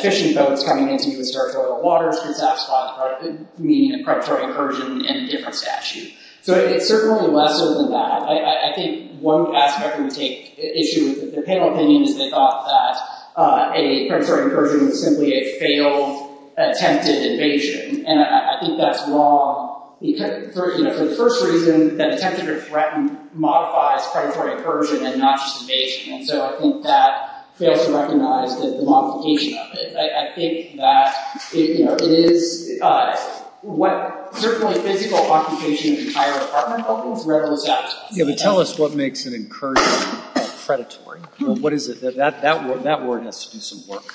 fishing boats coming into U.S. territorial waters could satisfy the meaning of predatory incursion in a different statute. So it's certainly lesser than that. I think one aspect I can take issue with the panel opinion is they thought that a predatory incursion was simply a failed, attempted invasion. And I think that's wrong. For the first reason, that attempted to threaten modifies predatory incursion and not just invasion. And so I think that fails to recognize the modification of it. I think that it is what certainly physical occupation of the entire Department of Health means, regardless of status. Yeah, but tell us what makes an incursion predatory. What is it? That word has to do some work.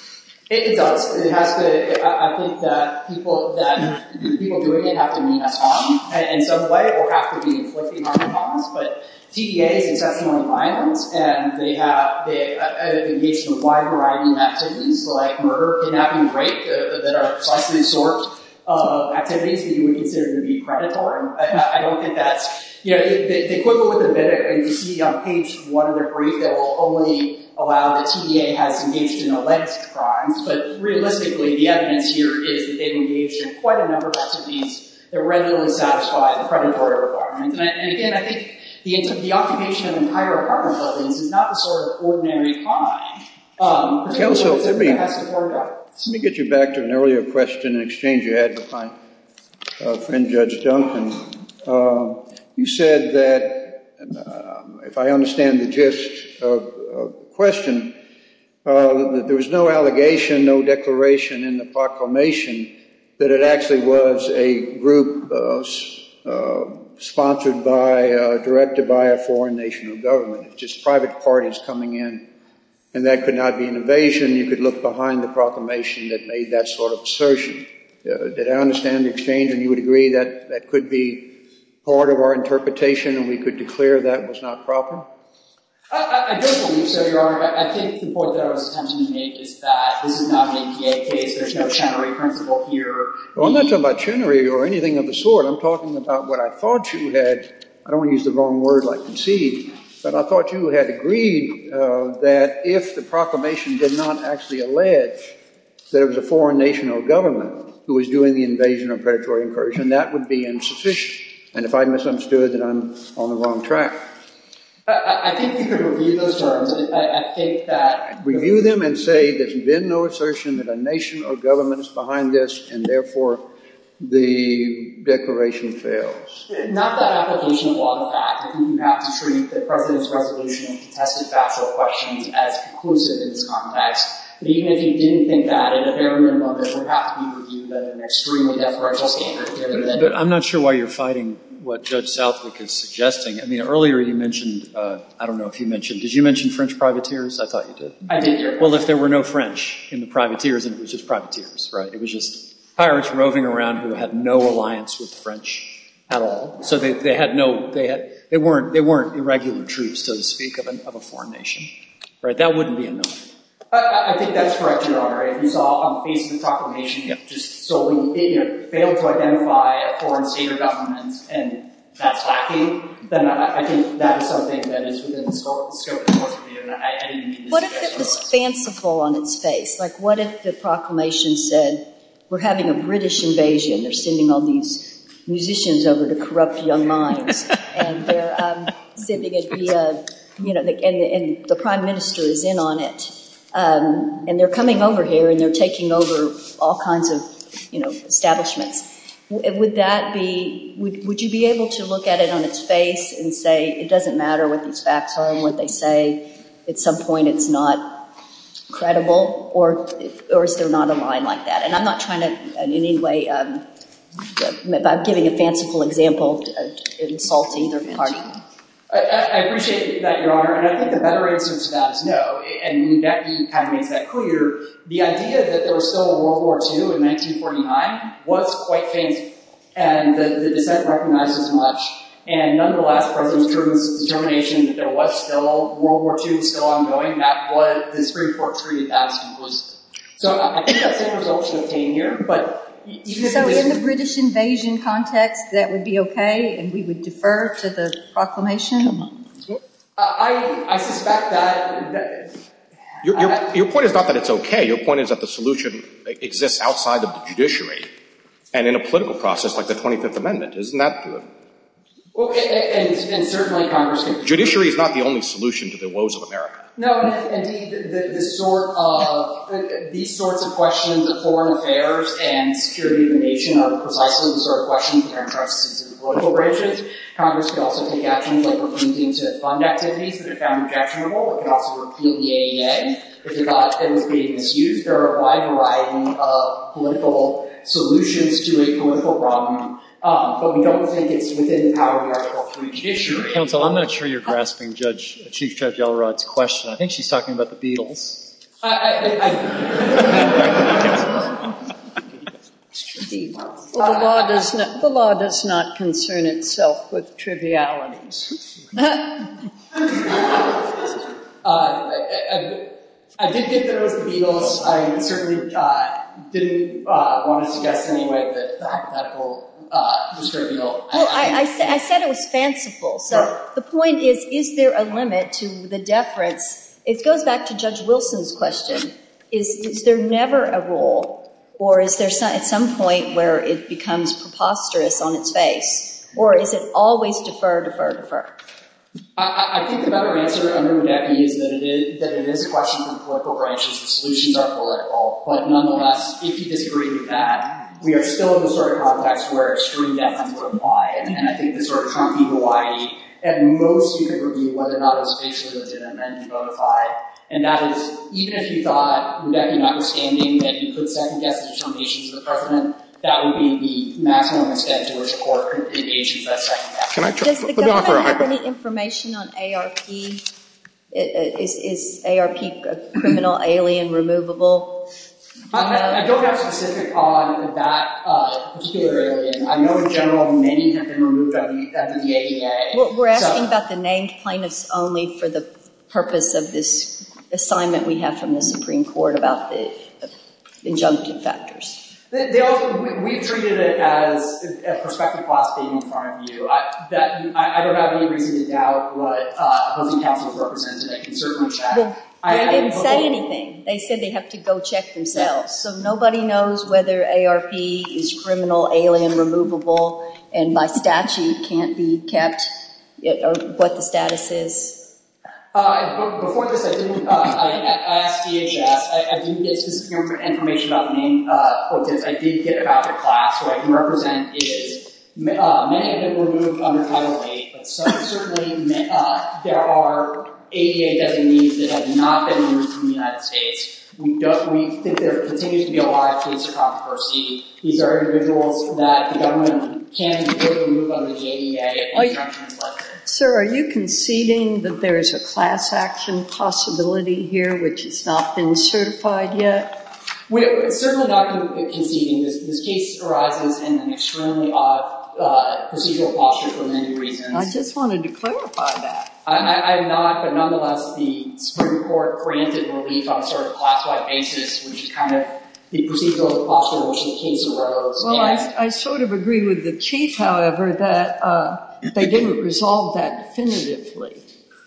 It does. It has to. I think that people doing it have to mean us harm in some way or have to be inflicted harm upon us. But TDA is excessively violent. And they have engaged in a wide variety of activities, like murder, kidnapping, and rape, that are less than the sort of activities that you would consider to be predatory. I don't think that's. You know, they quibble with it a bit. And you see on page one of their brief that will only allow the TDA has engaged in alleged crimes. But realistically, the evidence here is that they've engaged in quite a number of activities that readily satisfy the predatory requirements. And again, I think the occupation of the entire Department of Health is not the sort of ordinary crime. Counsel, let me get you back to an earlier question in exchange you had with my friend Judge Duncan. You said that, if I understand the gist of the question, that there was no allegation, no declaration in the proclamation that it actually was a group sponsored by, directed by a foreign national government. It's just private parties coming in. And that could not be an evasion. You could look behind the proclamation that made that sort of assertion. Did I understand the exchange, and you would agree that that could be part of our interpretation and we could declare that was not proper? I don't believe so, Your Honor. I think the point that I was attempting to make is that this is not an APA case. There's no Chenery principle here. Well, I'm not talking about Chenery or anything of the sort. I'm talking about what I thought you had. I don't want to use the wrong word like concede. But I thought you had agreed that if the proclamation did not actually allege that it was a foreign national government who was doing the invasion or predatory incursion, that would be insufficient. And if I misunderstood, then I'm on the wrong track. I think you could review those terms. I think that Review them and say there's been no assertion that a nation or government is behind this, and therefore the declaration fails. Not that application of law, in fact. I think you have to treat the President's resolution and contested factual questions as conclusive in this context. But even if you didn't think that, in a very real moment, it would have to be reviewed at an extremely deferential standard. But I'm not sure why you're fighting what Judge Southwick is suggesting. Earlier you mentioned, I don't know if you mentioned, did you mention French privateers? I thought you did. I did, Your Honor. Well, if there were no French in the privateers, then it was just privateers. It was just pirates roving around who had no alliance with the French at all. So they weren't irregular troops, so to speak, of a foreign nation. That wouldn't be a no. I think that's correct, Your Honor. If we saw on the face of the proclamation just solely failed to identify a foreign state or government, and that's lacking, then I think that is something that is within the scope of the court's review. What if it was fanciful on its face? Like, what if the proclamation said, we're having a British invasion. They're sending all these musicians over to corrupt young minds. And they're sending it via, you know, and the prime minister is in on it. And they're coming over here, and they're taking over all kinds of, you know, establishments. Would that be, would you be able to look at it on its face and say, it doesn't matter what these facts are and what they say, at some point it's not credible? Or is there not a line like that? And I'm not trying to in any way, by giving a fanciful example, insult either party. I appreciate that, Your Honor. And I think the better answer to that is no. And Becky kind of makes that clear. The idea that there was still a World War II in 1949 was quite fanciful. And the dissent recognized as much. And nonetheless, President Truman's determination that there was still World War II is still ongoing. That's what the Supreme Court treated as implicit. So I think that's the resultion of pain here. So in the British invasion context, that would be OK? And we would defer to the proclamation? Come on. I suspect that. Your point is not that it's OK. Your point is that the solution exists outside of the judiciary and in a political process like the 25th Amendment. Isn't that good? Well, and certainly Congress can take action. Judiciary is not the only solution to the woes of America. No. Indeed, these sorts of questions of foreign affairs and security of the nation are precisely the sort of questions that are entrusted to the political branches. Congress could also take actions like refunding to fund activities that it found objectionable. It could also repeal the AEA if it was being misused. There are a wide variety of political solutions to a political problem. But we don't think it's within the power of the Article III judiciary. Counsel, I'm not sure you're grasping Chief Judge Elrod's question. I think she's talking about the Beatles. I think so. It's trivial. The law does not concern itself with trivialities. I did think that it was the Beatles. I certainly didn't want to suggest anyway that the hypothetical was trivial. Well, I said it was fanciful. So the point is, is there a limit to the deference? It goes back to Judge Wilson's question. Is there never a rule? Or is there at some point where it becomes preposterous on its face? Or is it always defer, defer, defer? I think the better answer I'm going to give you is that it is a question of the political branches. The solutions are political. But nonetheless, if you disagree with that, we are still in the sort of context where extreme deference would apply. And I think the sort of Trump-y gawaii at most you could review whether or not it was facially legitimate and modified. And that is, even if you thought, Rebecca, notwithstanding that you could second guess the determination of the President, that would be the maximum extent to which a court could engage you for that second guess. Does the government have any information on ARP? Is ARP criminal, alien, removable? I don't have specific on that particular alien. I know, in general, many have been removed out of the AEA. We're asking about the named plaintiffs only for the purpose of this assignment we have from the Supreme Court about the injunctive factors. We've treated it as a prospective class being in front of you. I don't have any reason to doubt what opposing counsels represented, and I can certainly check. They didn't say anything. They said they'd have to go check themselves. So nobody knows whether ARP is criminal, alien, removable, and by statute can't be kept, what the status is. Before this, I asked DHS. I didn't get specific information about the named plaintiffs. I did get about the class. What I can represent is many have been removed under Title VIII, but certainly there are AEA designees that have not been removed from the United States. We think there continues to be a lot of case controversy. These are individuals that the government can't import and remove out of the AEA. Sir, are you conceding that there is a class action possibility here which has not been certified yet? We're certainly not conceding. This case arises in an extremely odd procedural posture for many reasons. I just wanted to clarify that. Nonetheless, the Supreme Court granted relief on a sort of class-wide basis, which is kind of the procedural posture in which the case arose. Well, I sort of agree with the Chief, however, that they didn't resolve that definitively.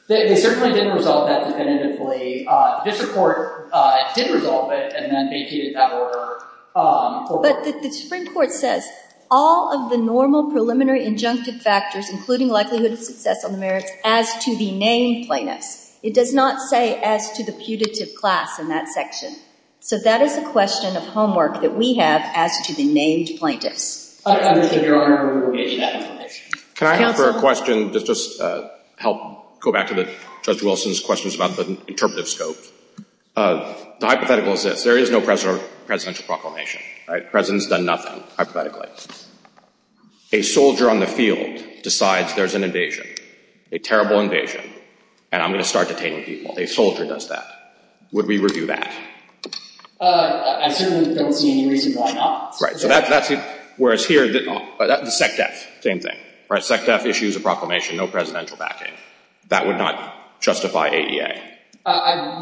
They certainly didn't resolve that definitively. The district court did resolve it and then vacated that order. But the Supreme Court says, all of the normal preliminary injunctive factors, including likelihood of success on the merits, as to the named plaintiffs. It does not say as to the putative class in that section. So that is a question of homework that we have as to the named plaintiffs. I don't understand your argument for revocation of that information. Can I ask for a question? Just to help go back to Judge Wilson's questions about the interpretive scope. The hypothetical is this. There is no presidential proclamation. The president's done nothing, hypothetically. A soldier on the field decides there's an invasion, a terrible invasion, and I'm going to start detaining people. A soldier does that. Would we review that? I certainly don't see any reason why not. Right. So that's it. Whereas here, the SECDEF, same thing. All right, SECDEF issues a proclamation, no presidential backing. That would not justify ADA.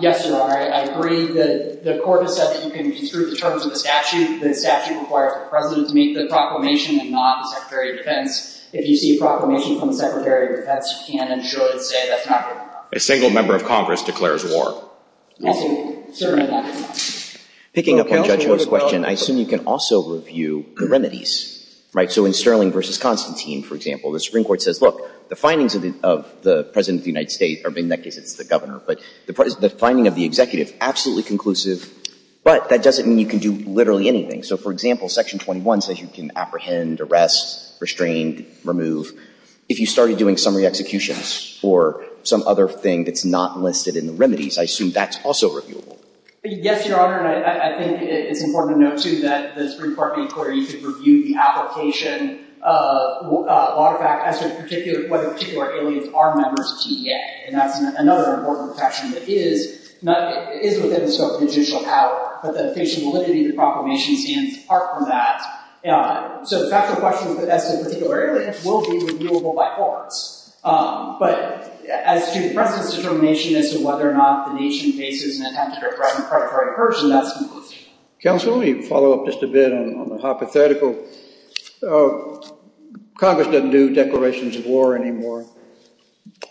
Yes, Your Honor. I agree that the court has said that you can disprove the terms of the statute. The statute requires the president to make the proclamation and not the Secretary of Defense. If you see a proclamation from the Secretary of Defense, you can and should say that's not going to happen. A single member of Congress declares war. Absolutely. Certainly not. Picking up on Judge Ho's question, I assume you can also review the remedies. So in Sterling v. Constantine, for example, the Supreme Court says, look, the findings of the president of the United States, or in that case, it's the governor. But the finding of the executive, absolutely conclusive. But that doesn't mean you can do literally anything. So for example, Section 21 says you can apprehend, arrest, restrain, remove. If you started doing summary executions or some other thing that's not listed in the remedies, I assume that's also reviewable. Yes, Your Honor. And I think it's important to note, too, that the Supreme Court made clear you could review the application. As to whether particular aliens are members of TEA. And that's another important question that is within the scope of judicial power. But the official validity of the proclamation stands apart from that. So the factual question as to particular aliens will be reviewable by courts. But as to the president's determination as to whether or not the nation faces an attempt to direct a predatory purge, that's not listed. Counsel, let me follow up just a bit on the hypothetical. Congress doesn't do declarations of war anymore.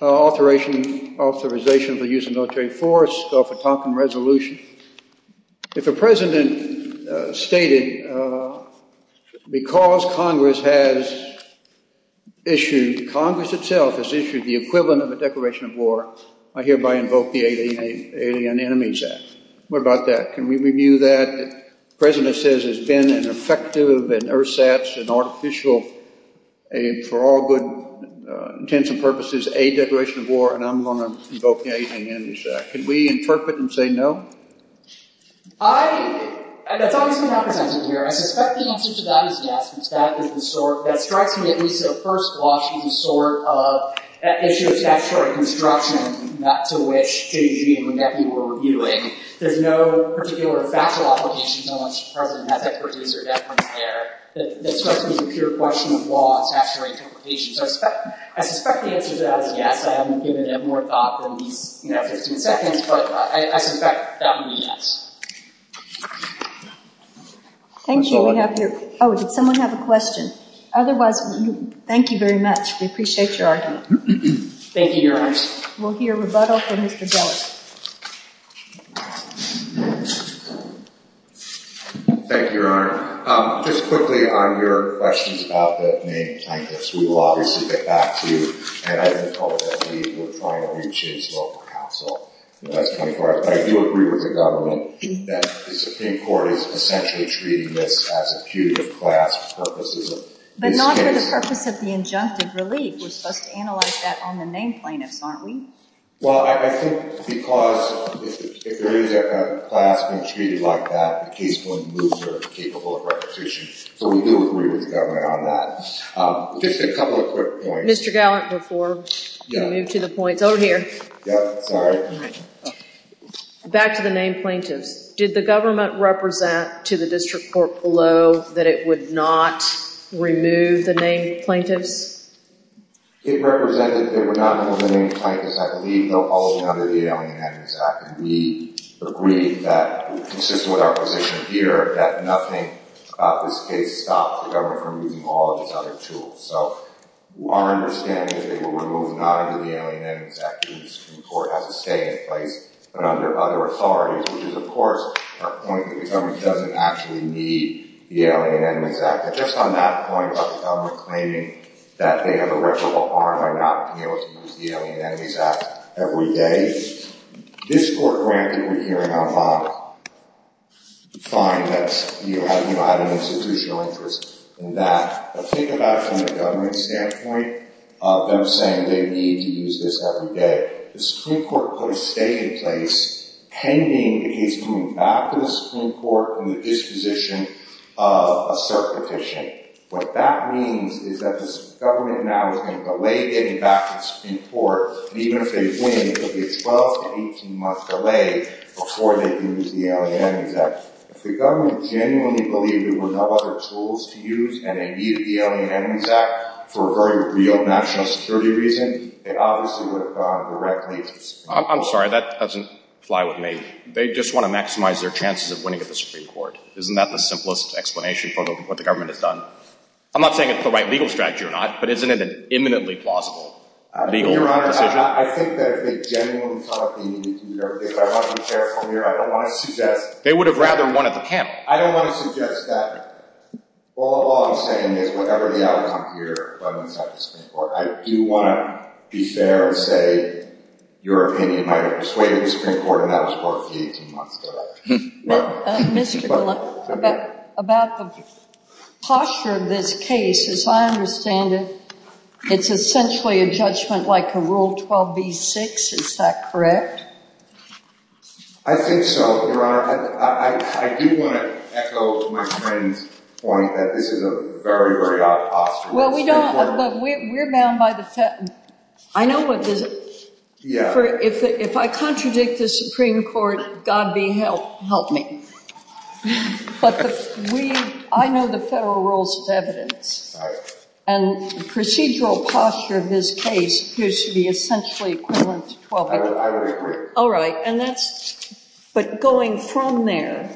Authorization of the use of military force, Gulf of Tonkin Resolution. If the president stated, because Congress has issued, Congress itself has issued the equivalent of a declaration of war, I hereby invoke the Alien Enemies Act. What about that? Can we review that? The president says it's been an effective, an ersatz, an artificial, for all good intents and purposes, a declaration of war. And I'm going to invoke the Alien Enemies Act. Could we interpret and say no? I, and that's obviously not presented here. I suspect the answer to that is yes. And that is the sort that strikes me at least at first blush as a sort of issue of statutory construction, not to which J.G. and the deputy were reviewing. There's no particular factual obligations on which the president has expertise or deference there. That strikes me as a pure question of law, a statutory interpretation. So I suspect the answer to that is yes. I haven't given it more thought than these 15 seconds. But I suspect that would be yes. Thank you. Oh, did someone have a question? Otherwise, thank you very much. We appreciate your argument. Thank you, Your Honor. We'll hear rebuttal from Mr. Gellar. Thank you, Your Honor. Just quickly on your questions about the main plaintiffs, we will obviously get back to you. And I think ultimately, we're trying to reach its local counsel. But I do agree with the government that the Supreme Court is essentially treating this as a punitive class for purposes of this case. But not for the purpose of the injunctive relief. We're supposed to analyze that on the main plaintiffs, aren't we? Well, I think because if there is a class being treated like that, the case wouldn't move if they're incapable of requisition. So we do agree with the government on that. Just a couple of quick points. Mr. Gellar, before we move to the points. Over here. Yeah, sorry. Back to the main plaintiffs. Did the government represent to the district court below that it would not remove the main plaintiffs? It represented that it would not remove the main plaintiffs. I believe, though, all of them under the Alien Abuse Act. And we agree that, consistent with our position here, that nothing about this case stops the government from removing all of these other tools. So our understanding is they were removed not under the Alien Enemies Act. The Supreme Court has a stay in place, but under other authorities, which is, of course, our point that the government doesn't actually need the Alien Enemies Act. But just on that point about the government claiming that they have irreparable harm by not being able to use the Alien Enemies Act every day. This court, granted, we hear it out loud, we find that you have an institutional interest in that. But think about it from the government's standpoint, them saying they need to use this every day. The Supreme Court put a stay in place pending its moving back to the Supreme Court and the disposition of a cert petition. What that means is that the government now is going to delay getting back to the Supreme Court. And even if they win, it will be a 12 to 18-month delay before they can use the Alien Enemies Act. If the government genuinely believed there were no other tools to use and they needed the Alien Enemies Act for a very real national security reason, they obviously would have gone directly to the Supreme Court. I'm sorry, that doesn't fly with me. They just want to maximize their chances of winning at the Supreme Court. Isn't that the simplest explanation for what the government has done? I'm not saying it's the right legal strategy or not, but isn't it an imminently plausible legal decision? Your Honor, I think that if they genuinely thought that they needed to use everything, but I want to be careful here. I don't want to suggest that. They would have rather won at the panel. I don't want to suggest that. All I'm saying is whatever the outcome here runs out of the Supreme Court, I do want to be fair and say your opinion might have persuaded the Supreme Court and that was for a few months ago. Mr. Gill, about the posture of this case, as I understand it, it's essentially a judgment like a Rule 12b-6. Is that correct? I think so, Your Honor. I do want to echo my friend's point that this is a very, very odd posture. Well, we don't. But we're bound by the federal. I know what this is. If I contradict the Supreme Court, God be helped. Help me. But I know the federal rules of evidence. And the procedural posture of this case appears to be essentially equivalent to 12b-6. I would agree. All right. But going from there,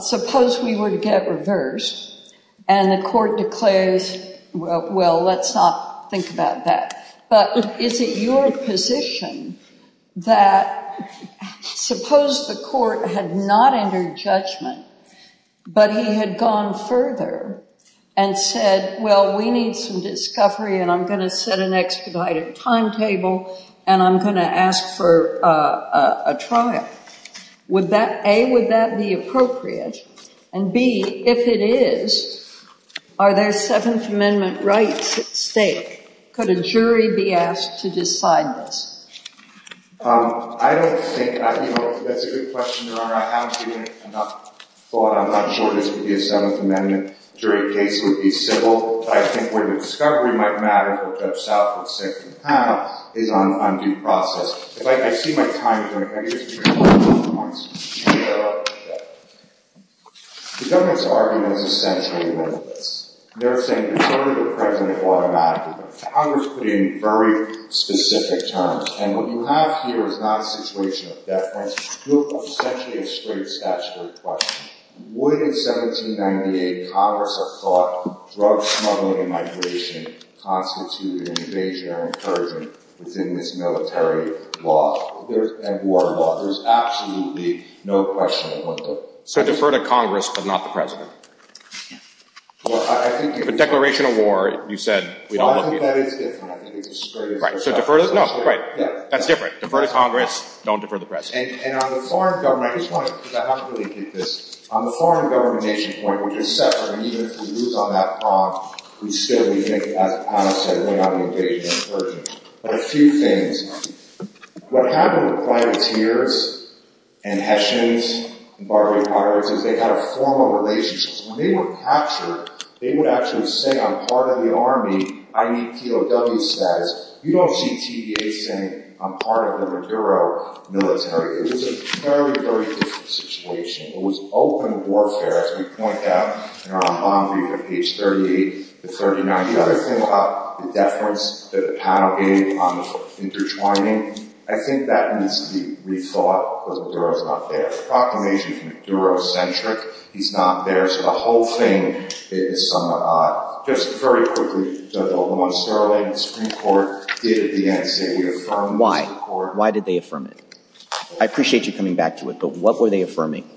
suppose we would get reversed and the court declares, well, let's not think about that. But is it your position that suppose the court had not entered judgment but he had gone further and said, well, we need some discovery, and I'm going to set an expedited timetable, and I'm going to ask for a trial? A, would that be appropriate? And B, if it is, are there Seventh Amendment rights at stake? Could a jury be asked to decide this? I don't think that's a good question, Your Honor. I haven't given it enough thought. I'm not sure this would be a Seventh Amendment jury case. It would be civil. But I think where the discovery might matter for Judge Salford's second panel is on due process. If I see my time, Your Honor, can I just give you a couple of points? Sure. The government's argument is essentially this. They're saying it's only the president who automatically does it. Congress put it in very specific terms. And what you have here is not a situation of deference. You have essentially a straight statutory question. Would, in 1798, Congress have thought drug smuggling and migration constituted an invasion or an incursion within this military law and war law? There's absolutely no question about that. So defer to Congress, but not the president? Well, I think you could. If a declaration of war, you said, we don't look at it. Well, I think that is different. I think it's a straight-up question. Right. So defer to Congress. That's different. Defer to Congress. Don't defer to the president. And on the foreign government, I just think that this, on the foreign government nation point, we're just separate. And even if we lose on that prompt, we still, we think, as Panos said, we're not an invasion, an incursion. But a few things. What happened with privateers and Hessians and Barbary Potters is they had a formal relationship. So when they were captured, they would actually say, I'm part of the army. I need POW status. You don't see TVA saying, I'm part of the Maduro military. It was a very, very different situation. It was open warfare, as we point out in our bomb brief on page 38 and 39. The other thing about the deference that the panel gave on the intertwining, I think that needs to be rethought, because Maduro's not there. The proclamation is Maduro-centric. He's not there. So the whole thing is somewhat odd. Just very quickly, Judge Obama and Sterling, the Supreme Court, did at the end say they affirmed the Supreme Court. Why did they affirm it? I appreciate you coming back to it, but what were they affirming?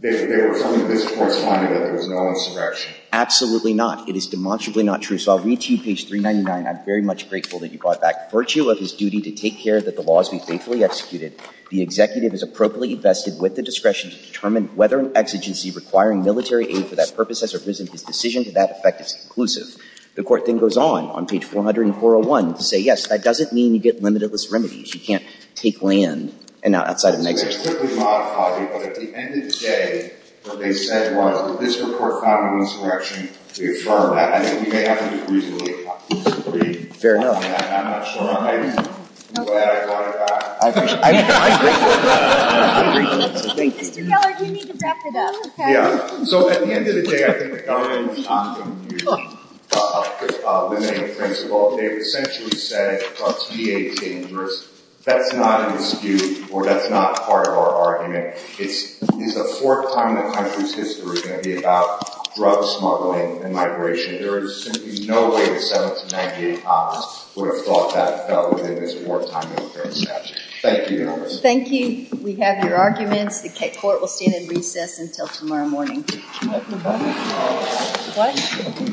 They were affirming that this Court's finding that there was no insurrection. Absolutely not. It is demonstrably not true. So I'll read to you page 399. I'm very much grateful that you brought it back. Virtue of his duty to take care that the law is to be faithfully executed, the executive is appropriately vested with the discretion to determine whether an exigency requiring military aid for that purpose has arisen. His decision to that effect is conclusive. The Court then goes on, on page 40401, to say, yes, that doesn't mean you get limitless remedies. You can't take land outside of an exigency. So they quickly modified it. But at the end of the day, what they said was that this Court found an insurrection. They affirmed that. I think we may have to do reasonably to agree on that. I'm not sure. I'm glad I brought it back. I appreciate it. I agree with you. I agree with you. So thank you. Mr. Gellar, do you need to wrap it up? Yeah. So at the end of the day, I think the government was not going to use the limiting principle. They essentially said, drugs can be dangerous. That's not an issue, or that's not part of our argument. It's the fourth time in the country's history it's going to be about drug smuggling and migration. There is simply no way the 1798 Congress would have thought that within this wartime military statute. Thank you, Your Honor. Thank you. We have your arguments. The Court will stand in recess until tomorrow morning. What?